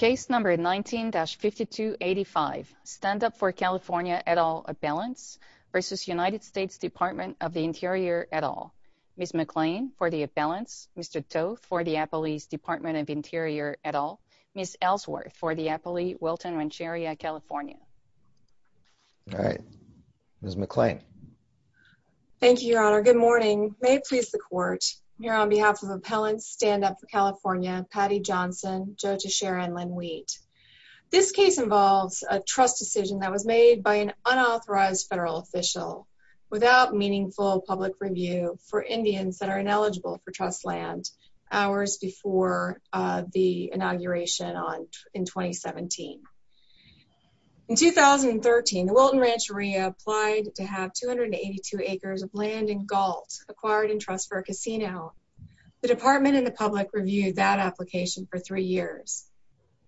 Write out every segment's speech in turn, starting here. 19-5285 Stand Up For California et al. Appellants v. United States Department of the Interior et al. Ms. McClain, for the appellants. Mr. Toth, for the Appellees Department of Interior et al. Ms. Ellsworth, for the Appellee Wilton Rancheria, California. All right. Ms. McClain. Thank you, Your Honor. Good morning. May it stand up for California, Patty Johnson, Joe Teixeira, and Lynn Wheat. This case involves a trust decision that was made by an unauthorized federal official without meaningful public review for Indians that are ineligible for trust land hours before the inauguration in 2017. In 2013, the Wilton Rancheria applied to have 282 acres of land in Galt acquired in trust for a department in the public reviewed that application for three years.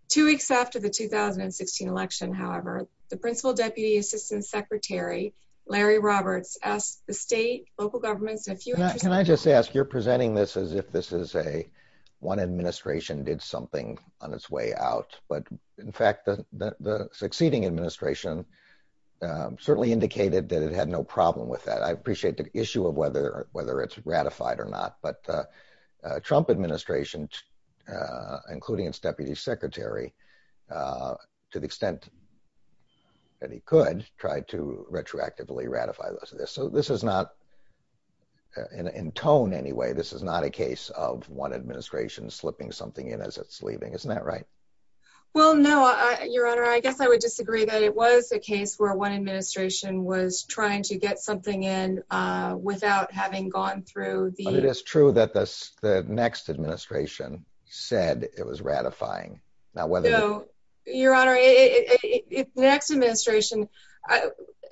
Two weeks after the 2016 election, however, the principal deputy assistant secretary, Larry Roberts, asked the state, local governments, and a few... Can I just ask, you're presenting this as if this is a one administration did something on its way out, but in fact, the succeeding administration certainly indicated that it had no problem with that. I appreciate the issue of whether it's ratified or not, but Trump administration, including its deputy secretary, to the extent that he could, tried to retroactively ratify this. So this is not, in tone anyway, this is not a case of one administration slipping something in as it's leaving. Isn't that right? Well, no, Your Honor. I guess I would disagree that it was a case where one administration was ratified and the next administration said it was ratifying. Now, whether- So, Your Honor, if the next administration,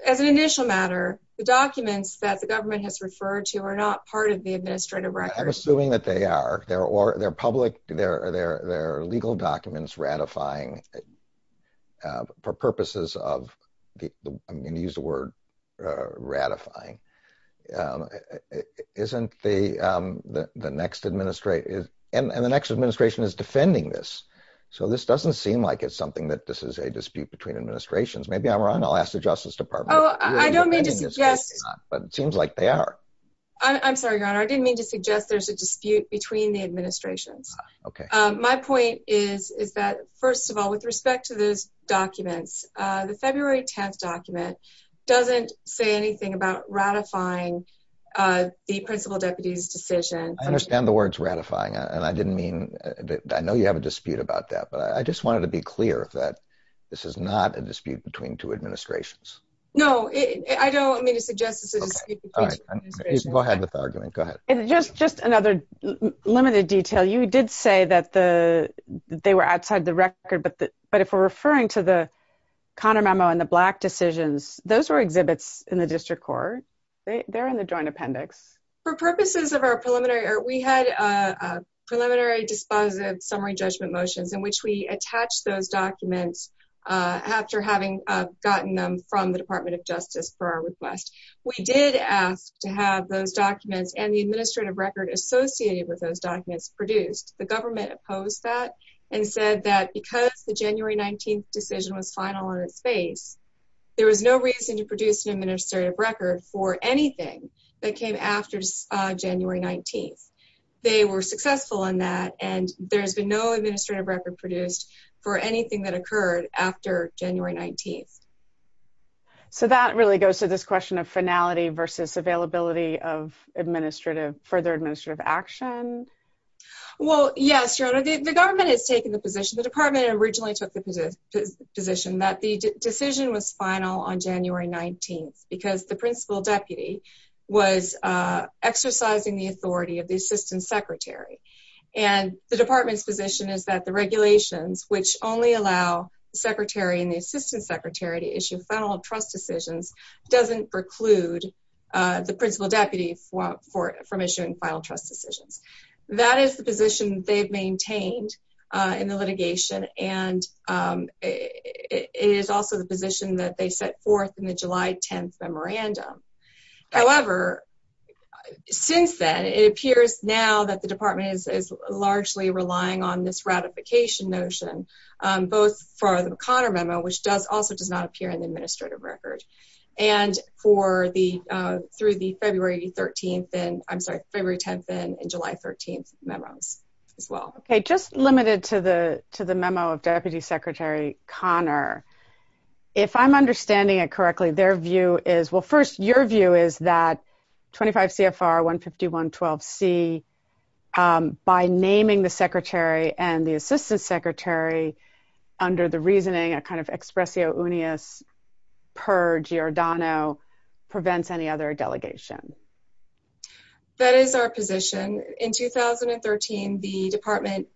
as an initial matter, the documents that the government has referred to are not part of the administrative record. I'm assuming that they are. They're public, they're legal documents ratifying for purposes of... I'm going to use the word ratifying. Isn't the next administration... And the next administration is defending this. So this doesn't seem like it's something that this is a dispute between administrations. Maybe I'm wrong. I'll ask the Justice Department. Oh, I don't mean to suggest- But it seems like they are. I'm sorry, Your Honor. I didn't mean to suggest there's a dispute between the administrations. My point is that, first of all, with respect to those documents, the February 10th document doesn't say anything about ratifying the principal deputy's decision. I understand the words ratifying, and I didn't mean... I know you have a dispute about that, but I just wanted to be clear that this is not a dispute between two administrations. No, I don't mean to suggest it's a dispute between two administrations. Go ahead with the argument. Go ahead. Just another limited detail. You did say that they were outside the record, but if we're referring to the Connor memo and the Black decisions, those were exhibits in the district court. They're in the joint appendix. For purposes of our preliminary... We had preliminary dispositive summary judgment motions in which we attach those documents after having gotten them from the Department of Justice for our request. We did ask to have those documents and the administrative record associated with those documents produced. The government opposed that and said that because the January 19th decision was final in its space, there was no reason to produce an administrative record for anything that came after January 19th. They were successful in that, and there's been no administrative record produced for anything that occurred after January 19th. That really goes to this question of finality versus availability of further administrative action? Well, yes, Your Honor. The government has taken the position... The department originally took the position that the decision was final on January 19th because the principal deputy was exercising the authority of the assistant secretary. The department's position is that the regulations, which only allow the secretary and the assistant secretary to issue final trust decisions, doesn't preclude the principal deputy from issuing final trust decisions. That is the position they've maintained in the litigation, and it is also the position that they set forth in the July 10th memorandum. However, since then, it appears now that the department is largely relying on this ratification notion, both for the O'Connor memo, which also does not appear in the administrative record, and through the February 10th and July 13th memos as well. Okay. Just limited to the memo of Deputy Secretary Connor, if I'm understanding it correctly, their view is... Well, first, your view is that 25 CFR 151-12C, by naming the secretary and the assistant secretary under the reasoning, a kind of expressio unius per Giordano, prevents any other delegation. That is our position. In 2013, the department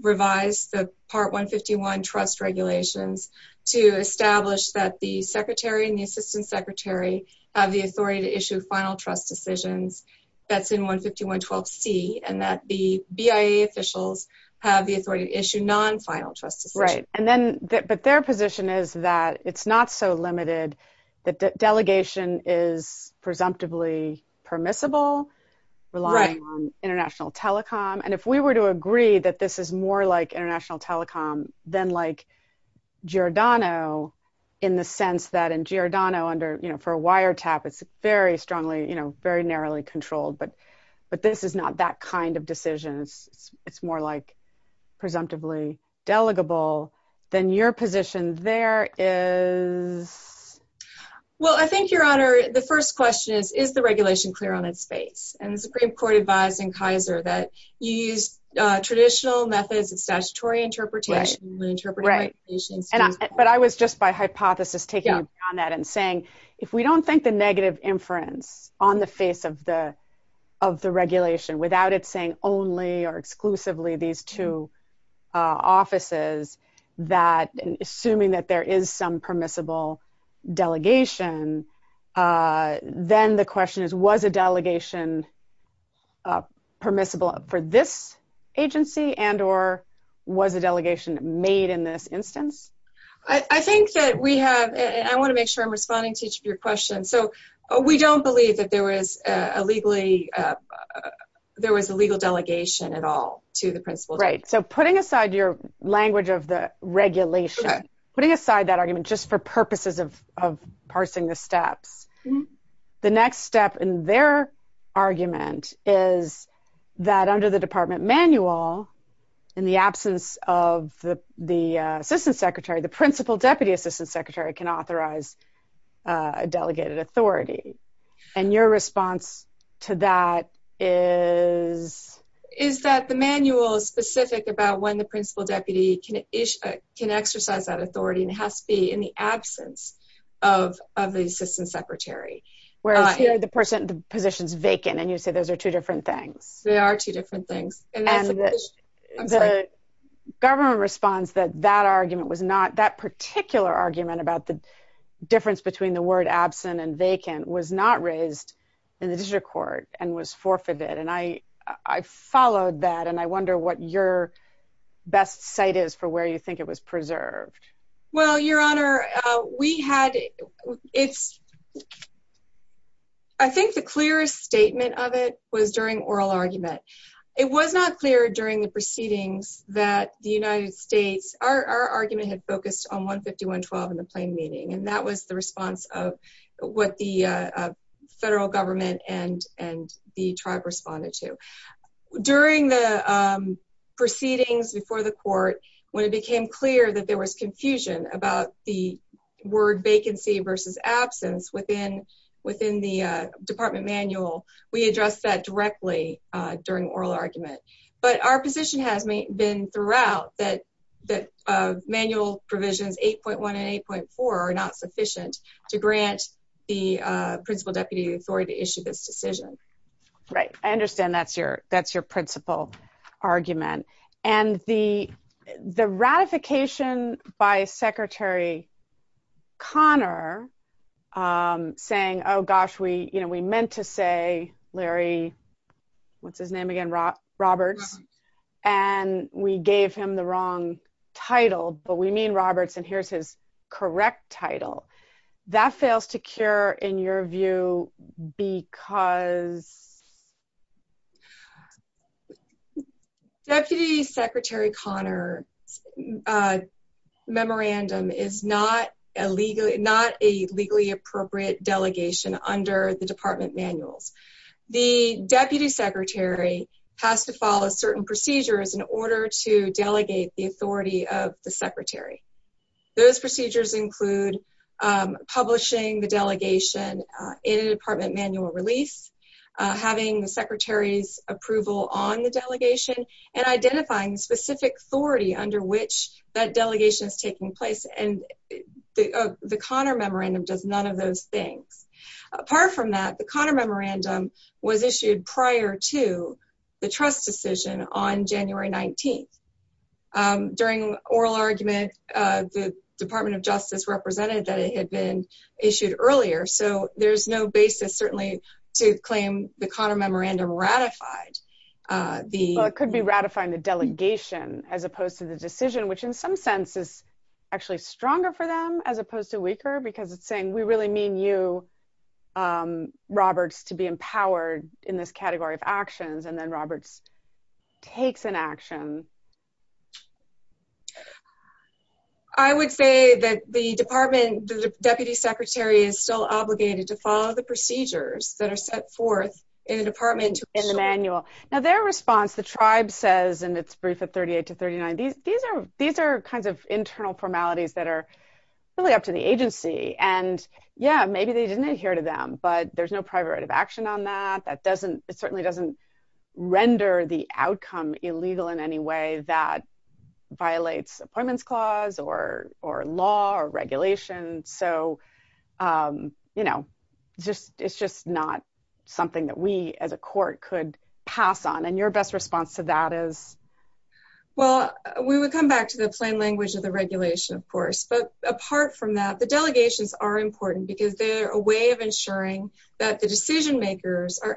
revised the Part 151 trust regulations to establish that the secretary and the assistant secretary have the authority to issue final trust decisions that's in 151-12C, and that the BIA officials have the authority to issue non-final trust decisions. Right. But their position is that it's not so limited, that delegation is presumptively permissible, relying on international telecom. If we were to agree that this is more like international telecom than like Giordano, in the sense that in Giordano, for a wiretap, it's very strongly, very narrowly controlled, but this is not that kind of decision. It's more like presumptively delegable. Then your position there is... Well, I think, Your Honor, the first question is, is the regulation clear on its face? And the Supreme Court advised in Kaiser that you use traditional methods of statutory interpretation, interpreting regulations... Right. But I was just, by hypothesis, taking on that and saying, if we don't think the negative inference on the face of the of the regulation, without it saying only or exclusively these two offices, that assuming that there is some permissible delegation, then the question is, was a delegation permissible for this agency and or was a delegation made in this instance? I think that we have, and I want to make sure I'm responding to each of your questions. So we don't believe that there was a legally, there was a legal delegation at all to the principle. Right. So putting aside your language of the regulation, putting aside that argument just for purposes of parsing the steps, the next step in their argument is that under the department manual, in the absence of the assistant secretary, the principal deputy assistant secretary can authorize a delegated authority. And your response to that is... Is that the manual is specific about when the principal deputy can exercise that authority and has to be in the absence of the assistant secretary. Whereas here, the position is vacant and you say those are two different things. They are two different things. And the government responds that that argument was not, that particular argument about the difference between the word absent and vacant was not raised in the district court and was forfeited. And I followed that. And I wonder what your best site is for where you think it was preserved. Well, your honor, we had, it's, I think the clearest statement of it was during oral argument. It was not clear during the proceedings that the United States, our argument had focused on 151.12 in the plain meaning. And that was the response of what the federal government and the tribe responded to. During the proceedings before the court, when it became clear that there was confusion about the word vacancy versus absence within the department manual, we addressed that directly during oral argument. But our position has been throughout that manual provisions 8.1 and 8.4 are not sufficient to grant the principal deputy authority to issue this decision. Right. I understand that's your, that's your principal argument. And the ratification by Secretary Conner saying, oh gosh, we, you know, we meant to say, Larry, what's his name again? Roberts. And we gave him the wrong title, but we mean Roberts and here's his correct title. That is Deputy Secretary Conner. Memorandum is not a legally, not a legally appropriate delegation under the department manuals. The deputy secretary has to follow certain procedures in order to delegate the authority of the secretary. Those procedures include publishing the delegation in a department manual release, having the secretary's approval on the delegation and identifying specific authority under which that delegation is taking place. And the Conner memorandum does none of those things. Apart from that, the Conner memorandum was issued prior to the trust decision on January 19th. During oral argument, the department of justice represented that it had been issued earlier. So there's no basis certainly to claim the Conner memorandum ratified. It could be ratifying the delegation as opposed to the decision, which in some sense is actually stronger for them as opposed to weaker, because it's saying, we really mean you Roberts to be empowered in this category of actions. And then Roberts takes an action. I would say that the department, the deputy secretary is still obligated to follow the procedures that are set forth in the department in the manual. Now their response, the tribe says, and it's brief at 38 to 39. These are kinds of internal formalities that are really up to the agency. And yeah, maybe they didn't adhere to them, but there's no private action on that. That doesn't, it certainly doesn't render the outcome illegal in any way. That violates appointments clause or, or law or regulation. So, you know, just, it's just not something that we as a court could pass on and your best response to that is Well, we would come back to the plain language of the regulation, of course. But apart from that, the delegations are important because they're a way of ensuring that the decision makers are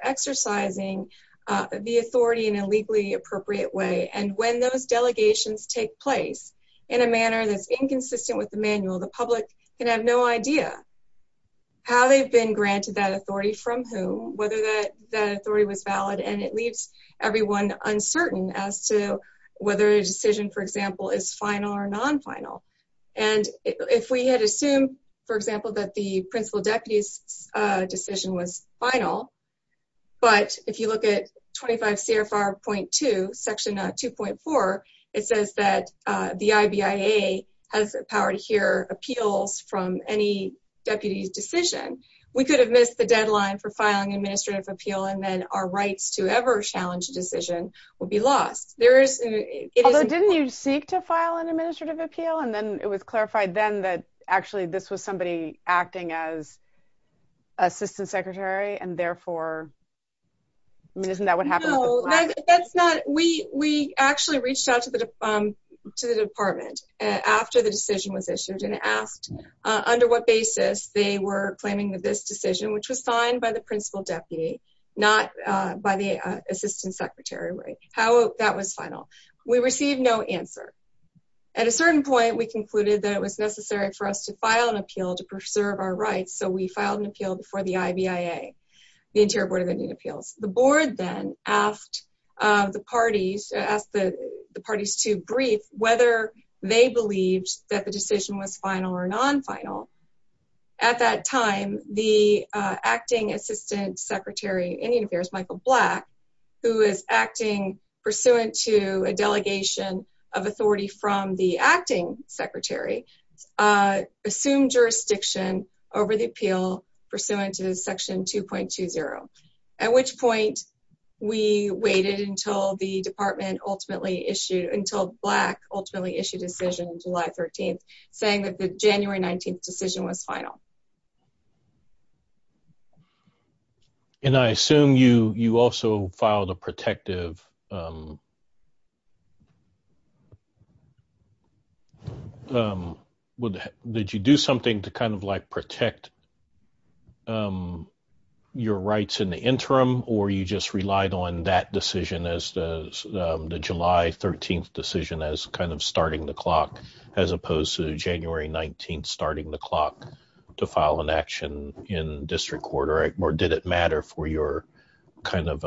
those delegations take place in a manner that's inconsistent with the manual, the public can have no idea how they've been granted that authority from whom whether that that authority was valid and it leaves everyone uncertain as to whether a decision, for example, is final or non final. And if we had assumed, for example, that the principal deputies decision was final. But if you look at 25 CFR point to section 2.4 it says that the IBA has the power to hear appeals from any deputies decision, we could have missed the deadline for filing administrative appeal and then our rights to ever challenge decision will be lost. There is Although didn't you seek to file an administrative appeal and then it was clarified then that Actually, this was somebody acting as Assistant Secretary and therefore I mean, isn't that what happened. That's not we we actually reached out to the To the department after the decision was issued and asked Under what basis. They were claiming that this decision which was signed by the principal deputy not by the Assistant Secretary. How that was final we received no answer. At a certain point, we concluded that it was necessary for us to file an appeal to preserve our rights. So we filed an appeal before the IBA the Interior Board of Indian Appeals, the board, then asked the parties asked the parties to brief whether they believed that the decision was final or non final at that time, the acting Assistant Secretary Indian Affairs, Michael Black, who is acting pursuant to a delegation of authority from the acting Secretary assumed jurisdiction over the appeal pursuant to Section 2.20 at which point We waited until the department ultimately issued until black ultimately issue decision July 13 saying that the January 19 decision was final. And I assume you you also filed a protective Would that did you do something to kind of like protect Your rights in the interim or you just relied on that decision as the The July 13 decision as kind of starting the clock, as opposed to January 19 starting the clock to file an action in district quarter or did it matter for your kind of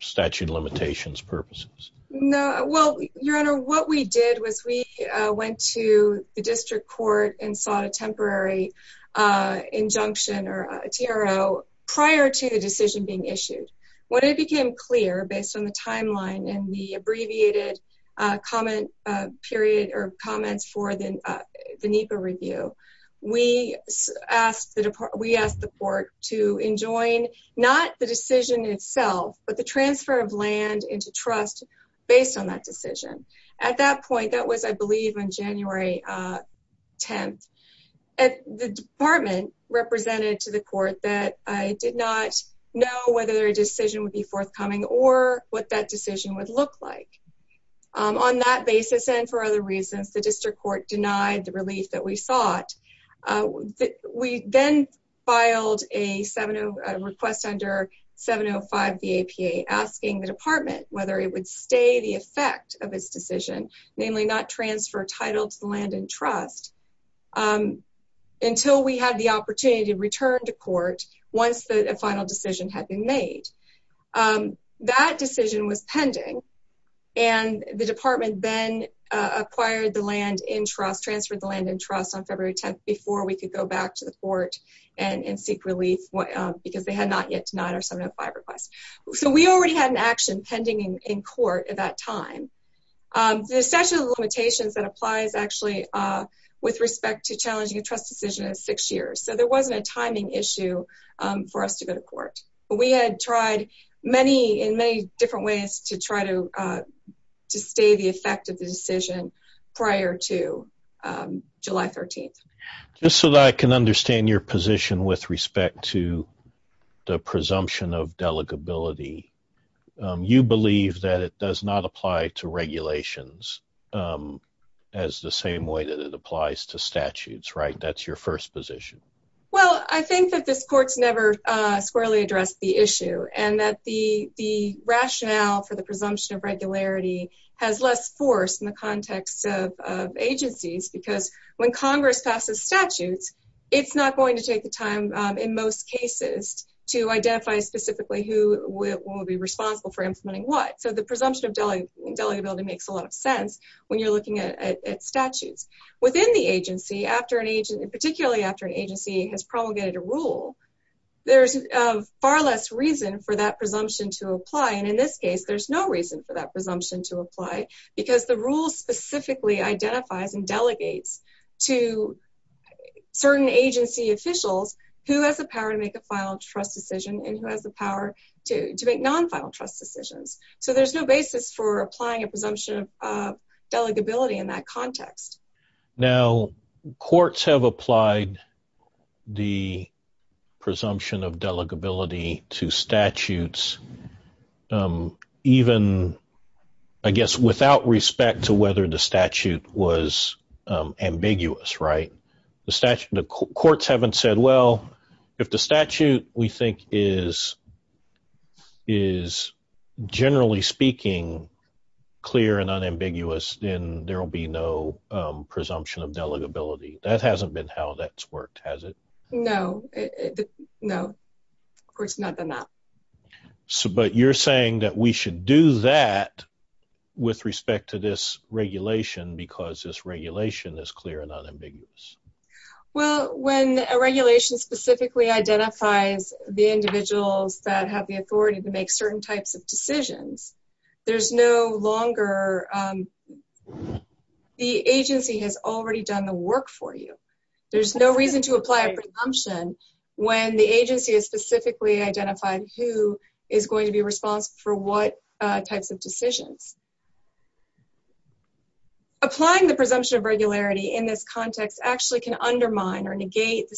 statute limitations purposes. No. Well, your honor, what we did was we went to the district court and saw a temporary injunction or TRO prior to the decision being issued when it became clear based on the timeline and the abbreviated comment period or comments for the NEPA review. We asked that we asked the court to enjoin not the decision itself, but the transfer of land into trust based on that decision. At that point, that was, I believe, on January. 10 at the department represented to the court that I did not know whether a decision would forthcoming or what that decision would look like on that basis. And for other reasons, the district court denied the relief that we thought We then filed a 70 request under 705 the APA asking the department, whether it would stay the effect of his decision, namely not transfer title to land and trust. Until we had the opportunity to return to court. Once the final decision had been made. That decision was pending and the department then acquired the land in trust transferred the land and trust on February 10 before we could go back to the court and seek relief. Because they had not yet to nine or seven or five requests. So we already had an action pending in court at that time. The session limitations that applies actually with respect to challenging a trust decision is six years. So there wasn't a timing issue for us to go to court, but we had tried many in many different ways to try to to stay the effect of the decision prior to July 13 just so that I can understand your position with respect to the presumption of delegate ability. You believe that it does not apply to regulations. As the same way that it applies to statutes. Right. That's your first position. Well, I think that this courts never squarely address the issue and that the the rationale for the presumption of regularity has less force in the context of agencies, because when Congress passes statutes. It's not going to take the time in most cases to identify specifically who will be responsible for implementing what so the presumption of delegate ability makes a lot of sense when you're looking at statutes within the agency after an particularly after an agency has promulgated a rule. There's far less reason for that presumption to apply. And in this case, there's no reason for that presumption to apply because the rule specifically identifies and delegates to certain agency officials who has the power to make a final trust decision and who has the power to to make non final trust decisions. So there's no basis for applying a presumption of context. Now courts have applied the presumption of delegate ability to statutes. Even I guess without respect to whether the statute was ambiguous. Right. The statute, the courts haven't said, well, if the statute we think is is, generally speaking, clear and unambiguous, then there will be no presumption of delegate ability that hasn't been how that's worked, has it? No, no, of course, not been that. So but you're saying that we should do that with respect to this regulation, because this regulation is clear and unambiguous. Well, when a regulation specifically identifies the individuals that have the authority to make certain types of decisions, there's no longer. The agency has already done the work for you. There's no reason to apply a presumption when the agency is specifically identified who is going to be responsible for what types of decisions. Applying the presumption of regularity in this context actually can undermine or negate the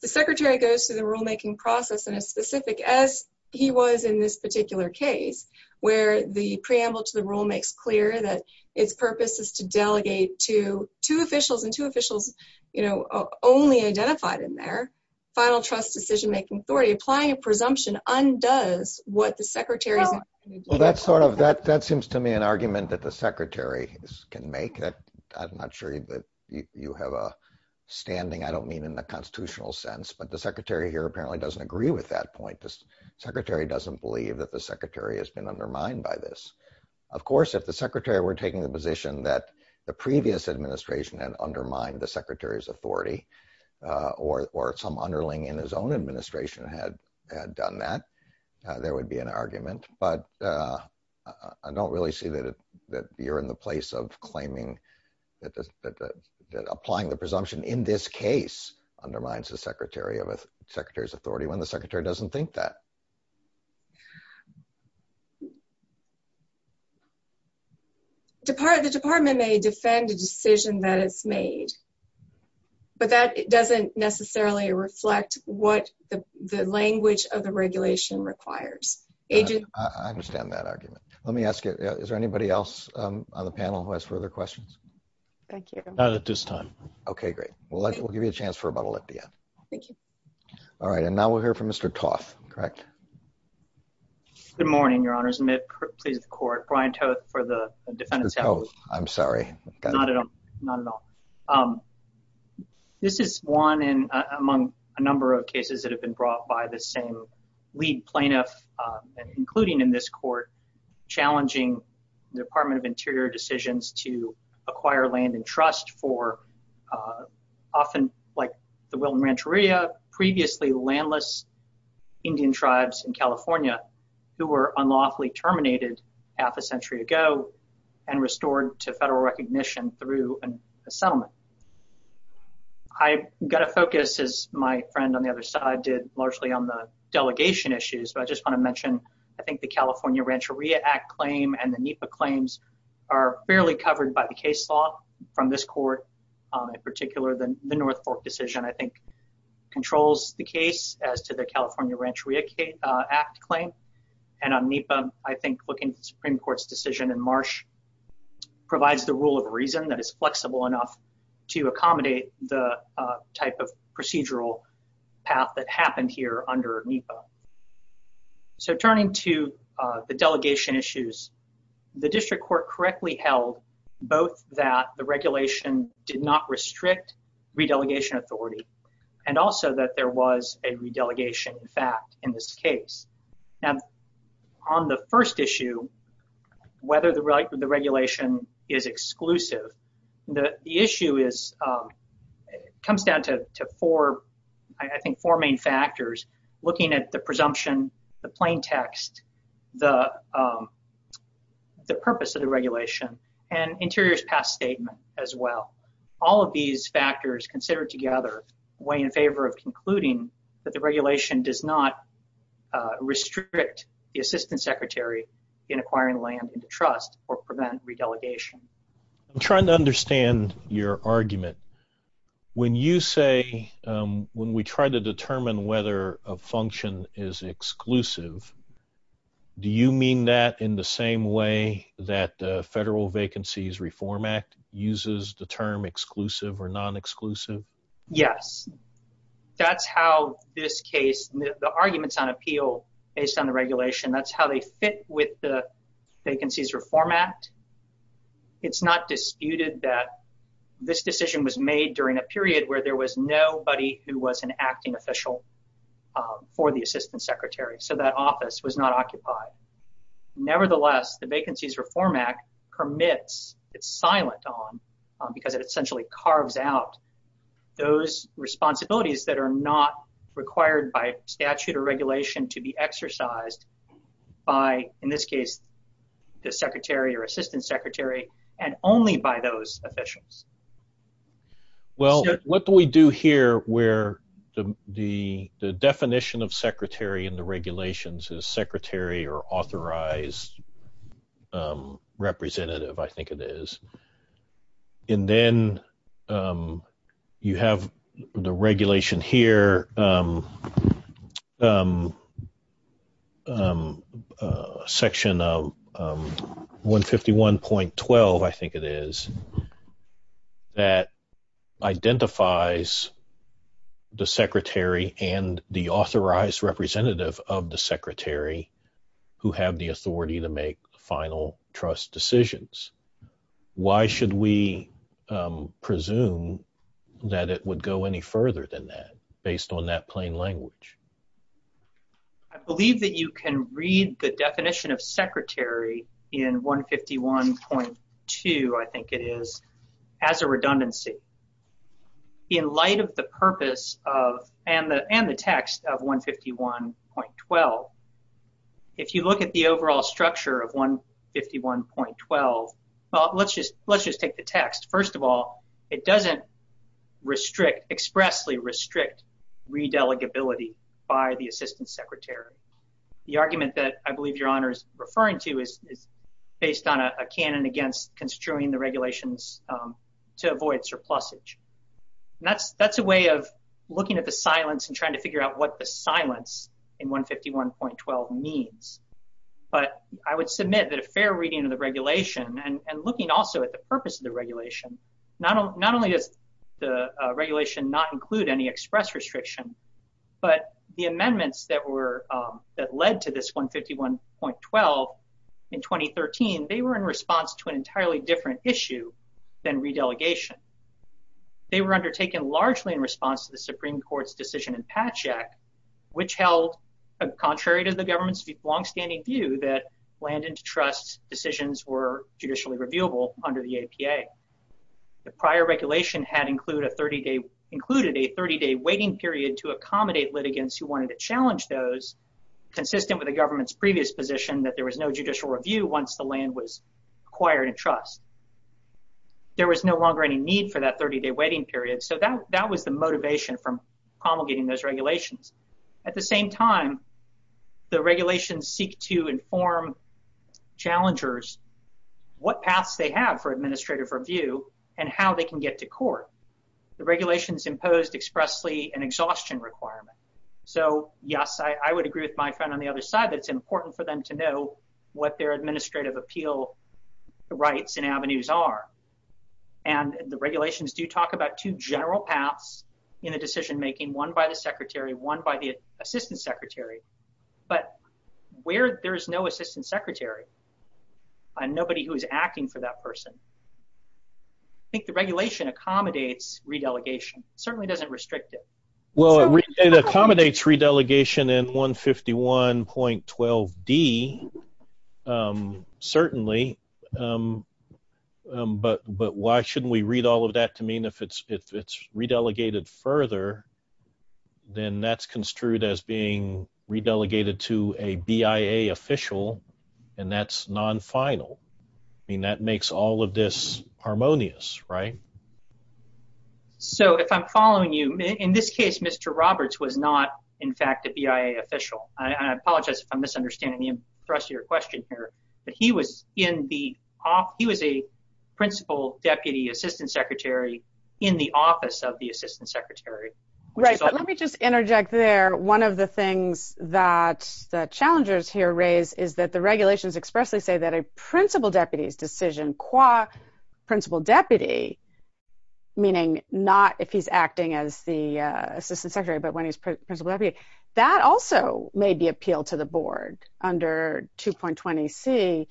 the rulemaking process in a specific as he was in this particular case where the preamble to the rule makes clear that its purpose is to delegate to two officials and two officials, you know, only identified in their final trust decision making authority applying a presumption undoes what the secretary. Well, that's sort of that. That seems to me an argument that the secretary can make that. I'm not sure that you have a standing. I don't mean in the constitutional sense, but the secretary here apparently doesn't agree with that point. The secretary doesn't believe that the secretary has been undermined by this. Of course, if the secretary were taking the position that the previous administration had undermined the secretary's authority, or some underling in his own administration had had done that, there would be an argument. But I don't really see that you're in the place of claiming that applying the presumption in this case undermines the secretary of a secretary's authority when the secretary doesn't think that. The department may defend a decision that is made, but that doesn't necessarily reflect what the language of the regulation requires. I understand that argument. Let me ask you, is there anybody else on the panel who has further questions? Not at this time. Okay, great. We'll give you a chance for a bottle at the end. Thank you. All right. And now we'll hear from Mr. Toth, correct? Good morning, your honors. Please, the court. Brian Toth for the defense. Oh, I'm sorry. This is one in among a number of cases that have been brought by the same plaintiff, including in this court, challenging the Department of Interior decisions to acquire land and trust for often, like the Wilton Rancheria, previously landless Indian tribes in California, who were unlawfully terminated half a century ago, and restored to federal recognition through a settlement. I got to focus, as my friend on the other side did, largely on the delegation issues, but I just want to mention, I think the California Rancheria Act claim and the NEPA claims are fairly covered by the case law from this court. In particular, the North Fork decision, I think, controls the case as to the California Rancheria Act claim. And on NEPA, I think looking at the Supreme Court's decision in March, provides the rule of reason that is flexible enough to accommodate the type of procedural path that happened here under NEPA. So turning to the delegation issues, the district court correctly held both that the regulation did not restrict re-delegation authority, and also that there was a re-delegation fact in this case. Now, on the first issue, whether the regulation is exclusive, the issue comes down to, I think, four main factors. Looking at the presumption, the plain text, the purpose of the regulation, and Interior's past statement as well. All of these factors considered together, weigh in favor of concluding that the regulation does not restrict the assistant secretary in acquiring land into trust or prevent re-delegation. I'm trying to understand your argument. When you say, when we try to determine whether a function is exclusive, do you mean that in the same way that the Federal Vacancies Reform Act uses the term exclusive or non-exclusive? Yes. That's how this case, the arguments on appeal based on the regulation, that's how they fit with the Vacancies Reform Act. It's not disputed that this decision was made during a period where there was nobody who was an acting official for the assistant secretary. So that office was not occupied. Nevertheless, the Vacancies Reform Act permits, it's silent on, because it essentially carves out those responsibilities that are not required by statute or regulation to be exercised by, in this case, the secretary or assistant secretary, and only by those officials. Well, what do we do here where the definition of secretary in the regulations is secretary or authorized representative, I think it is, and then you have the regulation here, section 151.12, I think it is, that identifies the secretary and the authorized representative of the secretary who have the authority to make final trust decisions. Why should we presume that it would go any further than that, based on that plain language? I believe that you can read the definition of secretary in 151.2, I think it is, as a redundancy. In light of the purpose of, and the text of 151.12, if you look at the overall structure of 151.12, well, let's just take the text. First of all, it doesn't expressly restrict re-delegability by the assistant secretary. The argument that I believe your honor is referring to is based on a canon against construing the regulations to avoid surplusage. That's a way of looking at the silence and trying to figure out what the silence in 151.12 means. But I would submit that a fair reading of the regulation and looking also at the purpose of the regulation, not only does the regulation not include any express restriction, but the amendments that led to this 151.12 in 2013, they were in response to an entirely different issue than re-delegation. They were undertaken largely in response to the Supreme Court's decision in Patchak, which held contrary to the government's longstanding view that land and trust decisions were judicially reviewable under the APA. The prior regulation had included a 30-day waiting period to accommodate litigants who wanted to challenge those consistent with the government's previous position that there was no judicial review once the land was acquired in trust. There was no longer any need for that 30-day waiting period. So that was the motivation from promulgating those regulations. At the same time, the regulations seek to inform challengers what paths they have for administrative review and how they can get to court. The regulations imposed expressly an exhaustion requirement. So yes, I would agree with my friend on the other side that it's important for them to know what their administrative appeal rights and avenues are. And the regulations do talk about two general paths in the decision-making, one by the secretary, one by the assistant secretary. But where there is no assistant secretary and nobody who is acting for that person, I think the regulation accommodates re-delegation. It certainly doesn't restrict it. Well, it accommodates re-delegation in 151.12d, certainly. But why shouldn't we read all of that to mean if it's re-delegated further, then that's construed as being re-delegated to a BIA official and that's non-final. I mean, that makes all of this harmonious, right? So if I'm following you, in this case, Mr. Roberts was not, in fact, a BIA official. I apologize if I'm misunderstanding the thrust of your question here, but he was a principal deputy assistant secretary in the office of the assistant secretary. Right. Let me just interject there. One of the things that the challengers here raise is that the regulations expressly say that a principal deputy's decision qua principal deputy, meaning not if he's acting as the assistant secretary, but when he's principal deputy, that also may be appealed to the board under 2.20c.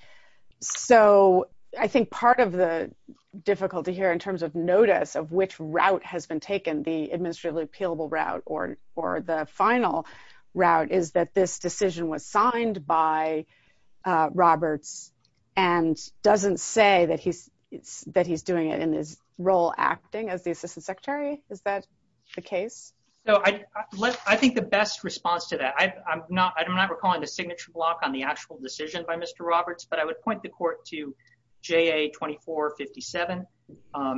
So I think part of the difficulty here in which route has been taken, the administratively appealable route or the final route, is that this decision was signed by Roberts and doesn't say that he's doing it in his role acting as the assistant secretary. Is that the case? I think the best response to that, I'm not recalling the signature block on the actual decision by Mr. Roberts, but I would point the court to 2457.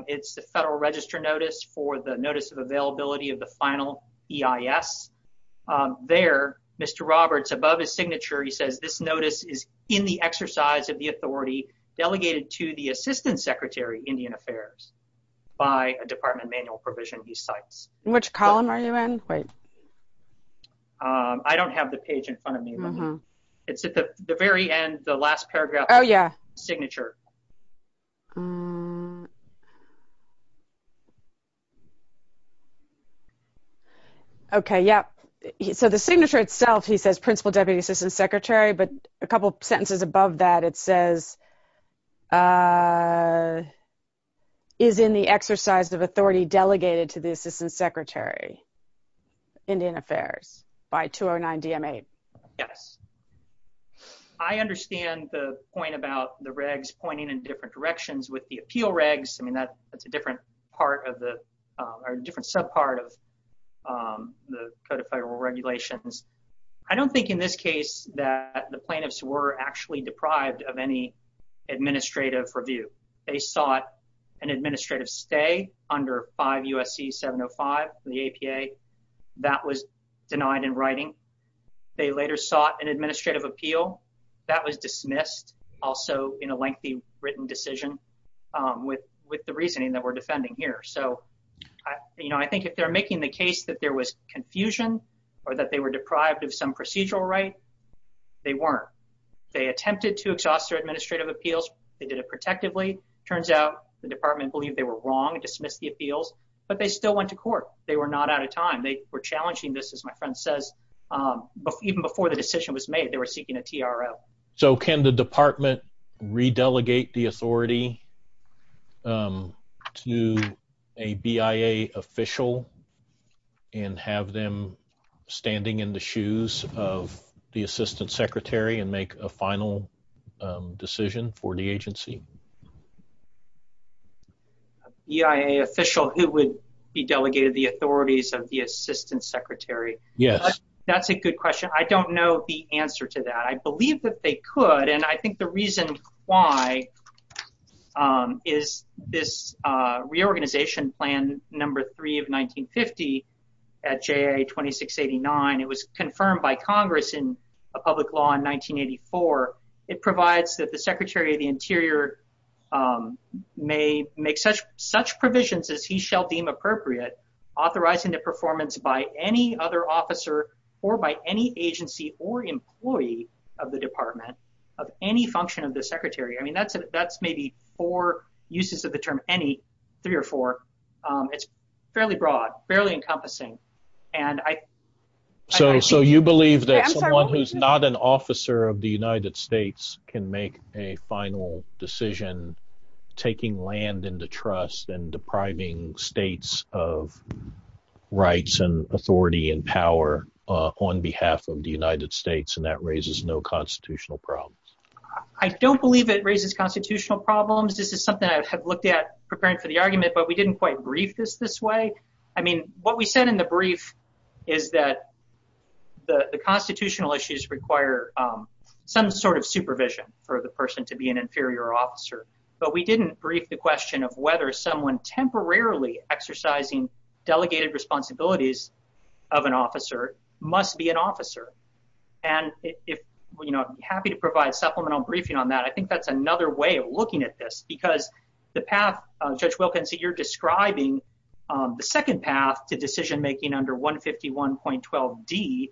It's the federal register notice for the notice of availability of the final EIS. There, Mr. Roberts, above his signature, he says this notice is in the exercise of the authority delegated to the assistant secretary, Indian Affairs, by a department manual provision he cites. Which column are you in? Wait. I don't have the page in front of me. It's at the very end, the last paragraph. Oh, yeah. Signature. Okay, yeah. So the signature itself, he says principal deputy assistant secretary, but a couple sentences above that, it says is in the exercise of authority delegated to the assistant secretary, Indian Affairs, by a department manual provision he cites. And I'm not recalling the signature block on the actual decision by Mr. Roberts, but I would point the actual decision by Mr. Roberts, but I would point the court to 2457. I don't think in this case that the plaintiffs were actually deprived of any administrative review. They sought an also in a lengthy written decision with the reasoning that we're defending here. So, you know, I think if they're making the case that there was confusion, or that they were deprived of some procedural right, they weren't. They attempted to exhaust their administrative appeals. They did it protectively. Turns out the department believed they were wrong and dismissed the appeals, but they still went to court. They were not out of time. They were challenging this, as my friend says, even before the decision was made, they were seeking a TRO. So, can the department re-delegate the authority to a BIA official and have them standing in the shoes of the assistant secretary and make a final decision for the agency? A BIA official who would be delegated the authorities of the assistant secretary? Yes. That's a good question. I don't know the answer to that. I believe that they could. And I think the reason why is this reorganization plan number three of 1950 at JA 2689. It was confirmed by Congress in a public law in 1984. It provides that the secretary of the interior may make such such provisions as he shall deem appropriate, authorizing the performance by any other officer or by any agency or employee of the department of any function of the secretary. I mean, that's maybe four uses of the term any, three or four. It's fairly broad, barely encompassing. So, you believe that someone who's not an officer of the United States can make a final decision taking land into trust and depriving states of rights and authority and power on behalf of the United States and that raises no constitutional problems? I don't believe it raises constitutional problems. This is something I have looked at preparing for the argument, but we didn't quite brief this this way. I mean, what we said in the brief is that the constitutional issues require some sort of supervision for the person to be an inferior officer, but we didn't brief the question of whether someone temporarily exercising delegated responsibilities of an officer must be an officer. And if, you know, I'd be happy to provide supplemental briefing on that. I think that's another way of looking at this because the path, Judge Wilkinson, you're describing the second path to decision-making under 151.12d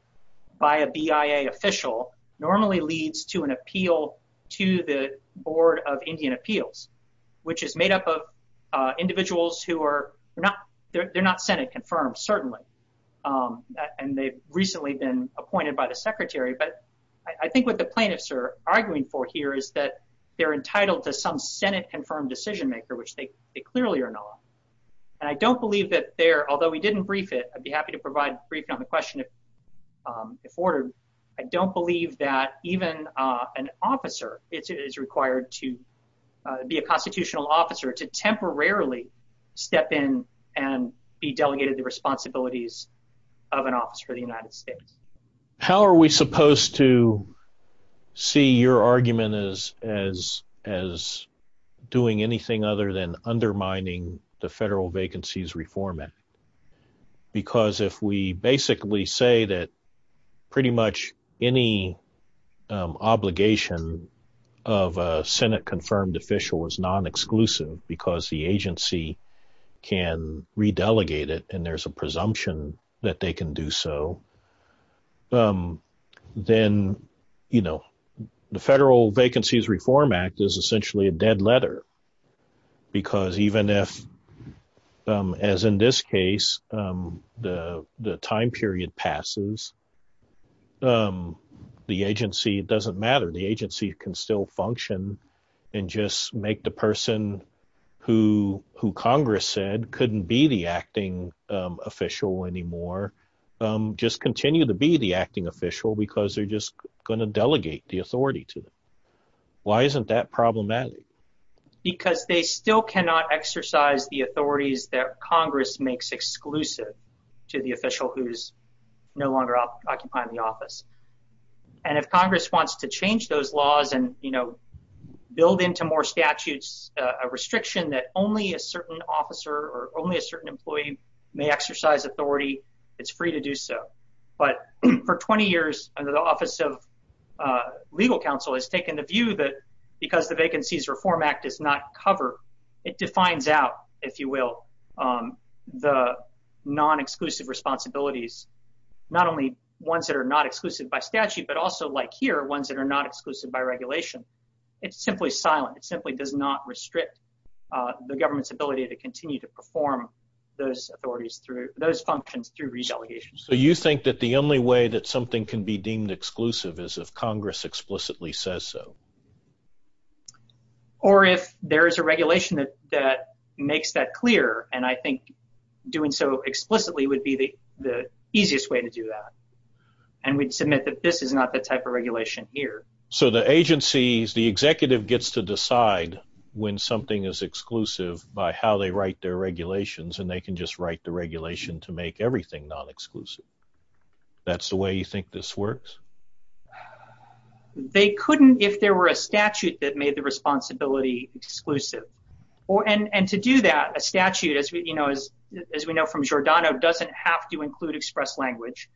by a BIA official normally leads to an appeal to the Board of Indian Appeals, which is made up of individuals who are not, they're not Senate-confirmed, certainly, and they've recently been appointed by the secretary. But I think what the plaintiffs are arguing for here is that they're entitled to some Senate-confirmed decision-maker, which they clearly are not. And I don't believe that there, although we didn't brief it, I'd be happy to provide briefing on the question if ordered, I don't believe that even an officer is required to be a constitutional officer to temporarily step in and be delegated the responsibilities of an officer of the United States as doing anything other than undermining the Federal Vacancies Reform Act. Because if we basically say that pretty much any obligation of a Senate-confirmed official is non-exclusive because the agency can re-delegate it and there's a presumption that they can do so, then the Federal Vacancies Reform Act is essentially a dead letter. Because even if, as in this case, the time period passes, the agency doesn't matter. The agency can still function and just make the person who Congress said couldn't be the acting official anymore, just continue to be the acting official because they're just going to delegate the authority to them. Why isn't that problematic? Because they still cannot exercise the authorities that Congress makes exclusive to the official who's no longer occupying the office. And if Congress wants to change those or only a certain employee may exercise authority, it's free to do so. But for 20 years, under the Office of Legal Counsel has taken the view that because the Vacancies Reform Act does not cover, it defines out, if you will, the non-exclusive responsibilities, not only ones that are not exclusive by statute, but also like here, ones that are not exclusive by regulation. It's simply silent. It simply does not restrict the government's ability to continue to perform those functions through re-delegation. So you think that the only way that something can be deemed exclusive is if Congress explicitly says so? Or if there is a regulation that makes that clear, and I think doing so explicitly would be the easiest way to do that. And we'd submit that this is not the type of regulation here. So the agencies, the executive gets to decide when something is exclusive by how they write their regulations, and they can just write the regulation to make everything non-exclusive. That's the way you think this works? They couldn't if there were a statute that made the responsibility exclusive. And to do that, a statute, as we know from Giordano, doesn't have to include express language.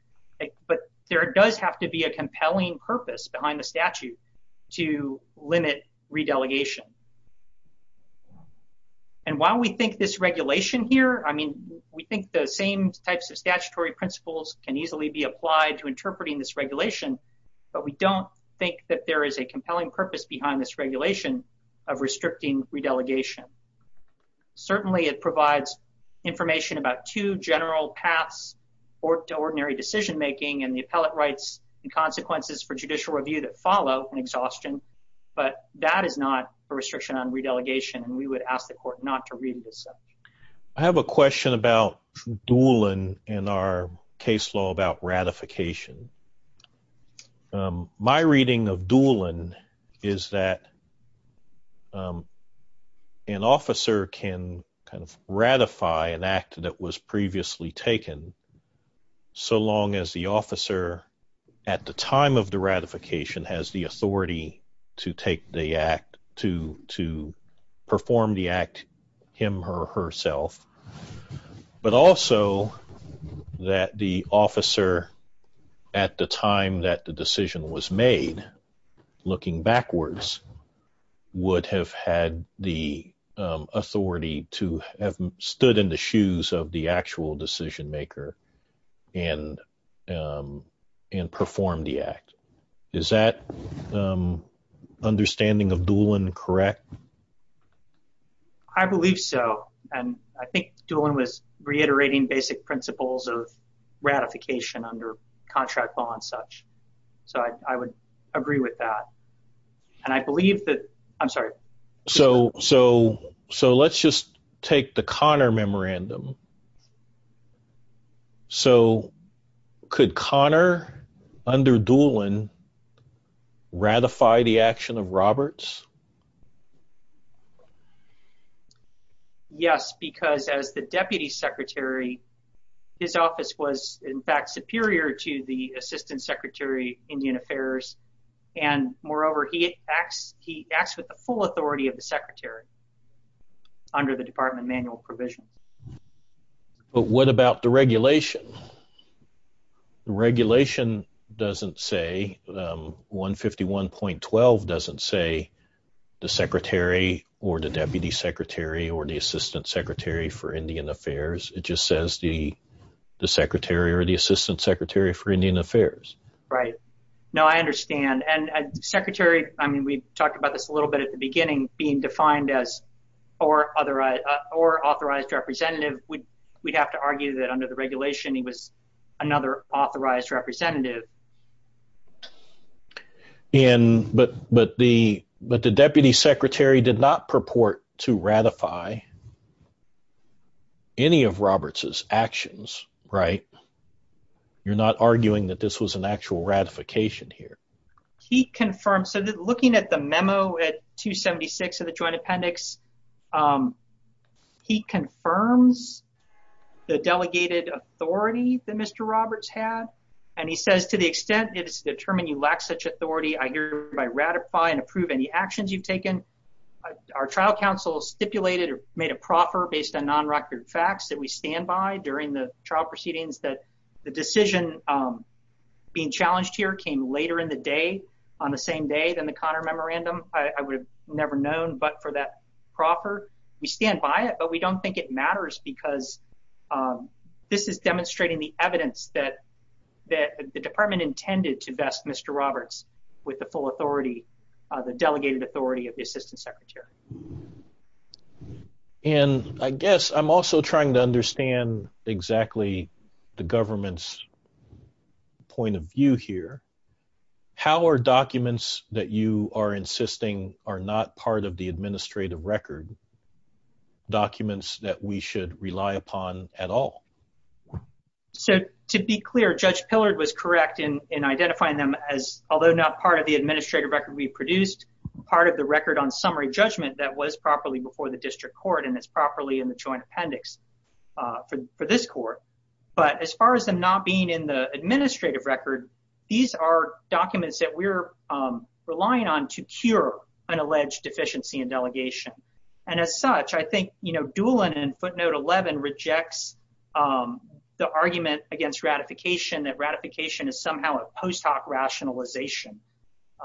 But there does have to be a compelling purpose behind the statute to limit re-delegation. And while we think this regulation here, I mean, we think the same types of statutory principles can easily be applied to interpreting this regulation, but we don't think that there is a compelling purpose behind this regulation of restricting re-delegation. Certainly, it provides information about two general paths to ordinary decision-making and the appellate rights and consequences for judicial review that follow in exhaustion, but that is not a restriction on re-delegation, and we would ask the court not to read this. I have a question about Doolin and our case law about ratification. My reading of Doolin is that an officer can kind of ratify an act that was previously taken, so long as the officer at the time of the ratification has the authority to take the act, to perform the act him or herself, but also that the officer at the time that the decision was made, looking backwards, would have had the authority to have stood in the shoes of the actual decision maker and perform the act. Is that understanding of Doolin correct? I believe so, and I think Doolin was reiterating basic principles of ratification under contract law and such, so I would agree with that, and I believe that, I'm sorry. So, let's just take the Conner memorandum. So, could Conner under Doolin ratify the action of Roberts? Yes, because as the deputy secretary, his office was, in fact, superior to the assistant secretary, Indian Affairs, and moreover, he acts with the full authority of the secretary under the department manual provisions. But what about deregulation? The regulation doesn't say, 151.12 doesn't say the secretary or the deputy secretary or the assistant secretary for Indian Affairs. It just says the secretary or the assistant secretary for Indian Affairs. Right. No, I understand, and secretary, I mean, we talked about this a little bit at the beginning, being defined as or authorized representative, we'd have to argue that under the regulation, he was another authorized representative. And, but the deputy secretary did not purport to ratify any of Roberts's actions, right? You're not arguing that this was an actual ratification here. He confirmed, so looking at the memo at 276 of the joint appendix, um, he confirms the delegated authority that Mr. Roberts had, and he says, to the extent it is determined you lack such authority, I hereby ratify and approve any actions you've taken. Our trial counsel stipulated or made a proffer based on non-record facts that we stand by during the trial proceedings that the decision being challenged here came later in the day, on the same day than the Connor Memorandum. I would have never known, but for that proffer, we stand by it, but we don't think it matters because, um, this is demonstrating the evidence that, that the department intended to vest Mr. Roberts with the full authority, the delegated authority of the assistant secretary. And I guess I'm also trying to understand exactly the government's point of view here. How are documents that you are insisting are not part of the administrative record, documents that we should rely upon at all? So, to be clear, Judge Pillard was correct in, in identifying them as, although not part of the administrative record we produced, part of the record on summary judgment that was properly before the district court, and it's properly in the joint appendix, uh, for, for this court, but as far as them not being in the administrative record, these are documents that we're, um, relying on to cure an alleged deficiency in delegation. And as such, I think, you know, Doolan in footnote 11 rejects, um, the argument against ratification, that ratification is somehow a post hoc rationalization,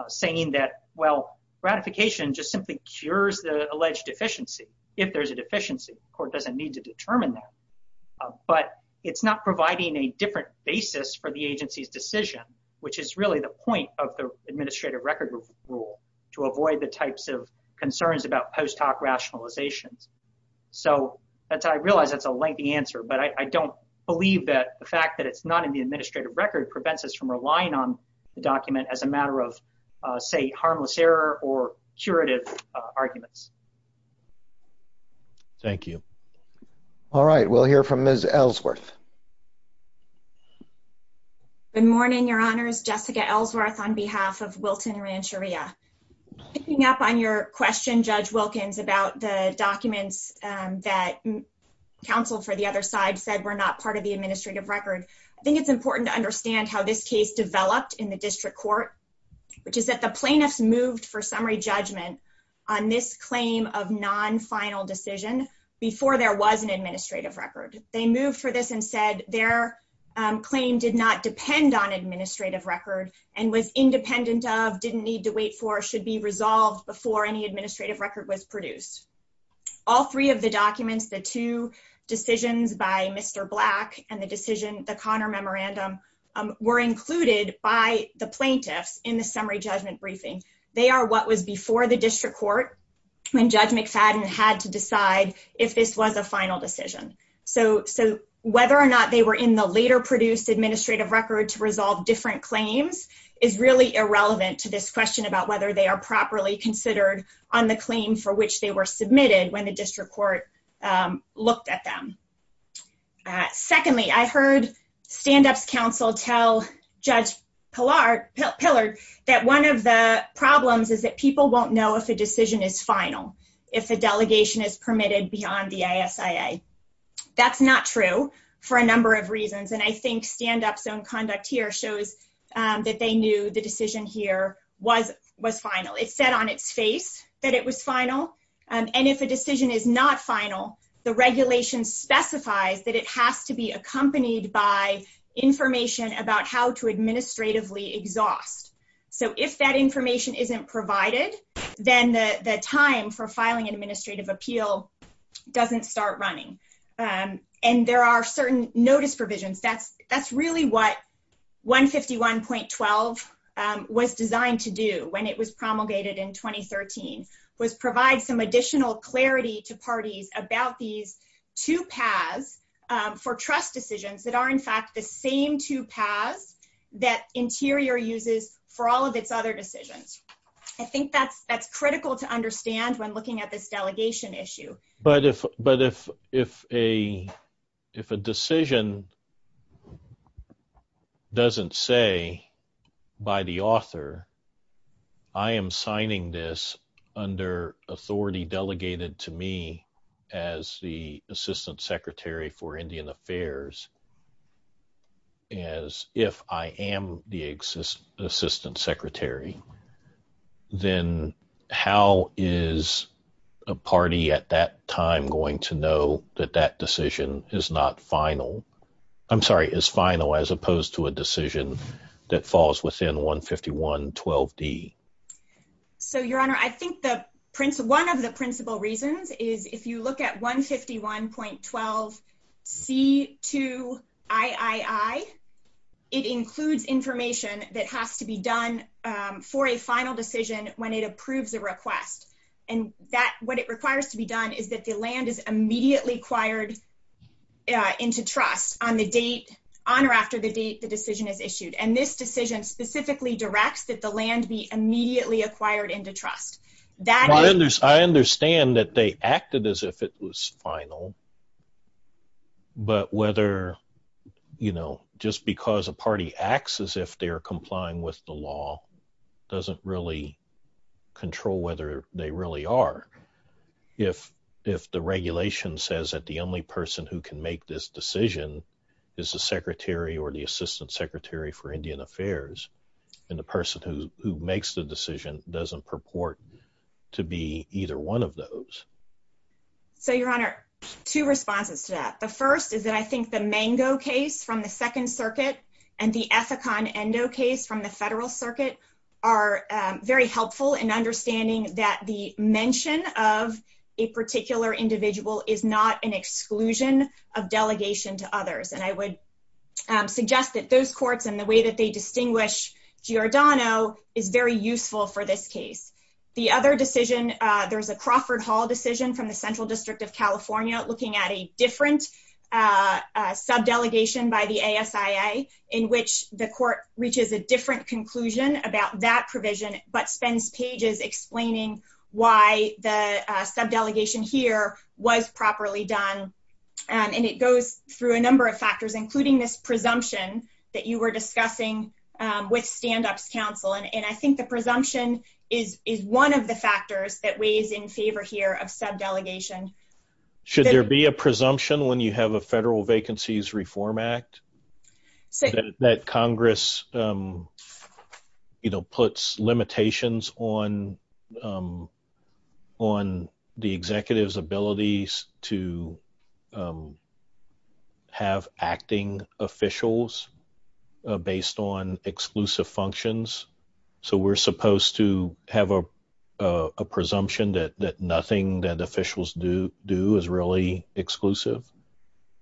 saying that, well, ratification just simply cures the alleged deficiency. If there's a deficiency, court doesn't need to determine that, but it's not providing a different basis for the agency's decision, which is really the point of the administrative record rule to avoid the types of concerns about post hoc rationalizations. So that's, I realize that's a lengthy answer, but I don't believe that the fact that it's not in the administrative record prevents us from relying on the document as a matter of, uh, say harmless error or curative arguments. Thank you. All right. We'll hear from Ms. Ellsworth. Good morning, your honors, Jessica Ellsworth on behalf of Wilton Rancheria. Picking up on your question, Judge Wilkins, about the documents, um, that counsel for the other side said were not part of the administrative record. I think it's important to understand how this case developed in the district court, which is that the plaintiffs moved for summary judgment on this claim of non-final decision before there was an administrative record. They moved for this and said their, um, claim did not depend on administrative record and was independent of, didn't need to wait for, should be resolved before any administrative record was produced. All three of the documents, the two decisions by Mr. Black and the decision, the Connor memorandum, um, were included by the plaintiffs in the summary judgment briefing. They are what was before the district court when Judge McFadden had to decide if this was a final decision. So, so whether or not they were in the later produced administrative record to resolve different claims is really irrelevant to this question about whether they are properly considered on the claim for which they were submitted when the district court, um, looked at them. Uh, secondly, I heard standups council tell Judge Pillar, that one of the problems is that people won't know if a decision is final, if a delegation is permitted beyond the ISIA. That's not true for a number of reasons. And I think standup's own conduct here shows, um, that they knew the decision here was, was final. It said on its face that it was final. Um, and if a decision is not final, the regulation specifies that it has to be accompanied by information about how to administratively exhaust. So if that information isn't provided, then the, the time for filing an administrative appeal doesn't start running. Um, and there are certain notice provisions. That's, that's really what 151.12, um, was designed to do when it was promulgated in 2013 was provide some additional clarity to parties about these two paths, um, for trust decisions that are in fact the same two paths that interior uses for all of its other decisions. I think that's, that's critical to understand when looking at this delegation issue. But if, but if, if a, if a decision doesn't say by the author, I am signing this under authority delegated to me as the Assistant Secretary for Indian Affairs, as if I am the Assistant Secretary, then how is a party at that time going to know that that decision is not final? I'm sorry, is final as opposed to a decision that falls within 1 51 12 d. So your honor, I think the prince, one of the principal reasons is if you look at 1 51.12 c two I I I it includes information that has to be done for a final decision when it approves a request and that what it requires to be done is that the land is immediately acquired into trust on the date on or after the date the decision is issued. And this decision specifically directs that the land be immediately acquired into trust that I understand that they acted as if it was final, but whether, you know, just because a party acts as if they're complying with the law doesn't really control whether they really are. If if the regulation says that the only person who can make this decision is the secretary or the Assistant Secretary for Indian Affairs, and the person who who makes the decision doesn't purport to be either one of those. So your honor, two responses to that. The first is that I think the mango case from the Second Circuit and the ethic on and no case from the Federal Circuit are very helpful in understanding that the mention of a particular individual is not an exclusion of delegation to others. And I would suggest that those courts and the way that they distinguish Giordano is very useful for this case. The other decision, there's a Crawford Hall decision from the Central District of California, looking at a different sub delegation by the ASA in which the court reaches a different conclusion about that provision, but spends pages explaining why the sub delegation here was properly done. And it goes through a number of factors, including this presumption that you were discussing with Stand-Ups Council. And I think the presumption is is one of the factors that weighs in favor here of sub delegation. Should there be a presumption when you have a Federal Vacancies Reform Act say that Congress, you know, puts limitations on on the executive's abilities to have acting officials based on exclusive functions. So we're supposed to have a presumption that that nothing that officials do do is really exclusive.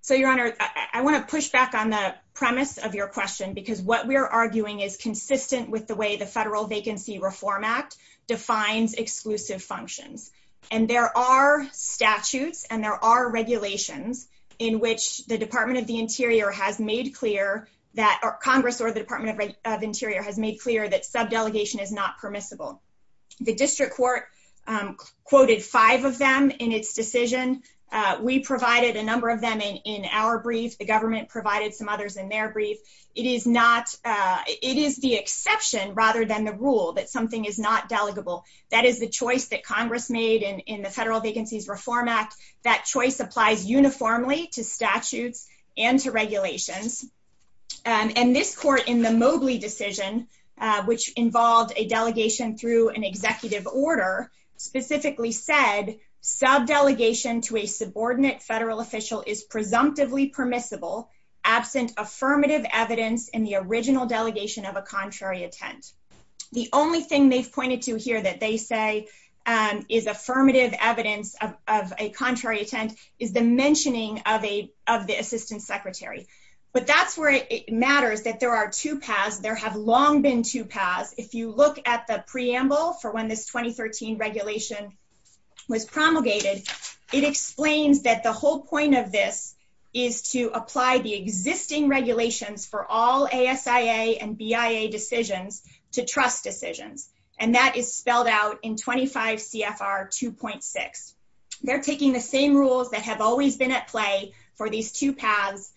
So your honor, I want to push back on the premise of your question, because what we're arguing is consistent with the way the Federal Vacancy Reform Act defines exclusive functions. And there are statutes and there are regulations in which the Department of the Interior has made clear that Congress or the Department of Interior has made clear that sub delegation is not permissible. The district court quoted five of them in its decision. We provided a number of them in our brief. The government provided some others in their brief. It is not. It is the exception, rather than the rule that something is not delegable. That is the choice that Congress made in the Federal Vacancies Reform Act. That choice applies uniformly to statutes and to regulations. And this court in the Mobley decision, which involved a delegation through an executive order, specifically said sub delegation to a subordinate federal official is presumptively permissible absent affirmative evidence in the original delegation of a contrary attempt. The only thing they've pointed to here that they say is affirmative evidence of a contrary attempt is the mentioning of the assistant secretary. But that's where it matters that there are two paths. There have long been two paths. If you look at the preamble for when this 2013 regulation was promulgated, it explains that the whole point of this is to apply the existing regulations for all ASIA and BIA decisions to trust decisions. And that is spelled out in 25 CFR 2.6. They're taking the same rules that have always been at play for these two paths,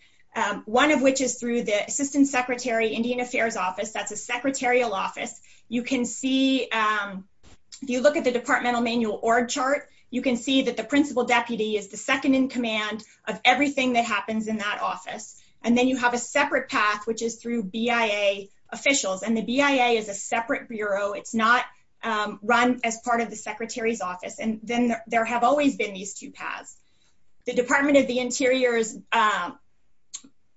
one of which is through the Assistant Secretary, Indian Affairs Office. That's a secretarial office. You can see, if you look at the departmental manual org chart, you can see that the principal deputy is the second in command of everything that happens in that office. And then you have a separate path, which is through BIA officials. And the BIA is a separate bureau. It's not run as part of the secretary's office. And then there have always been these two paths. The Department of the Interior's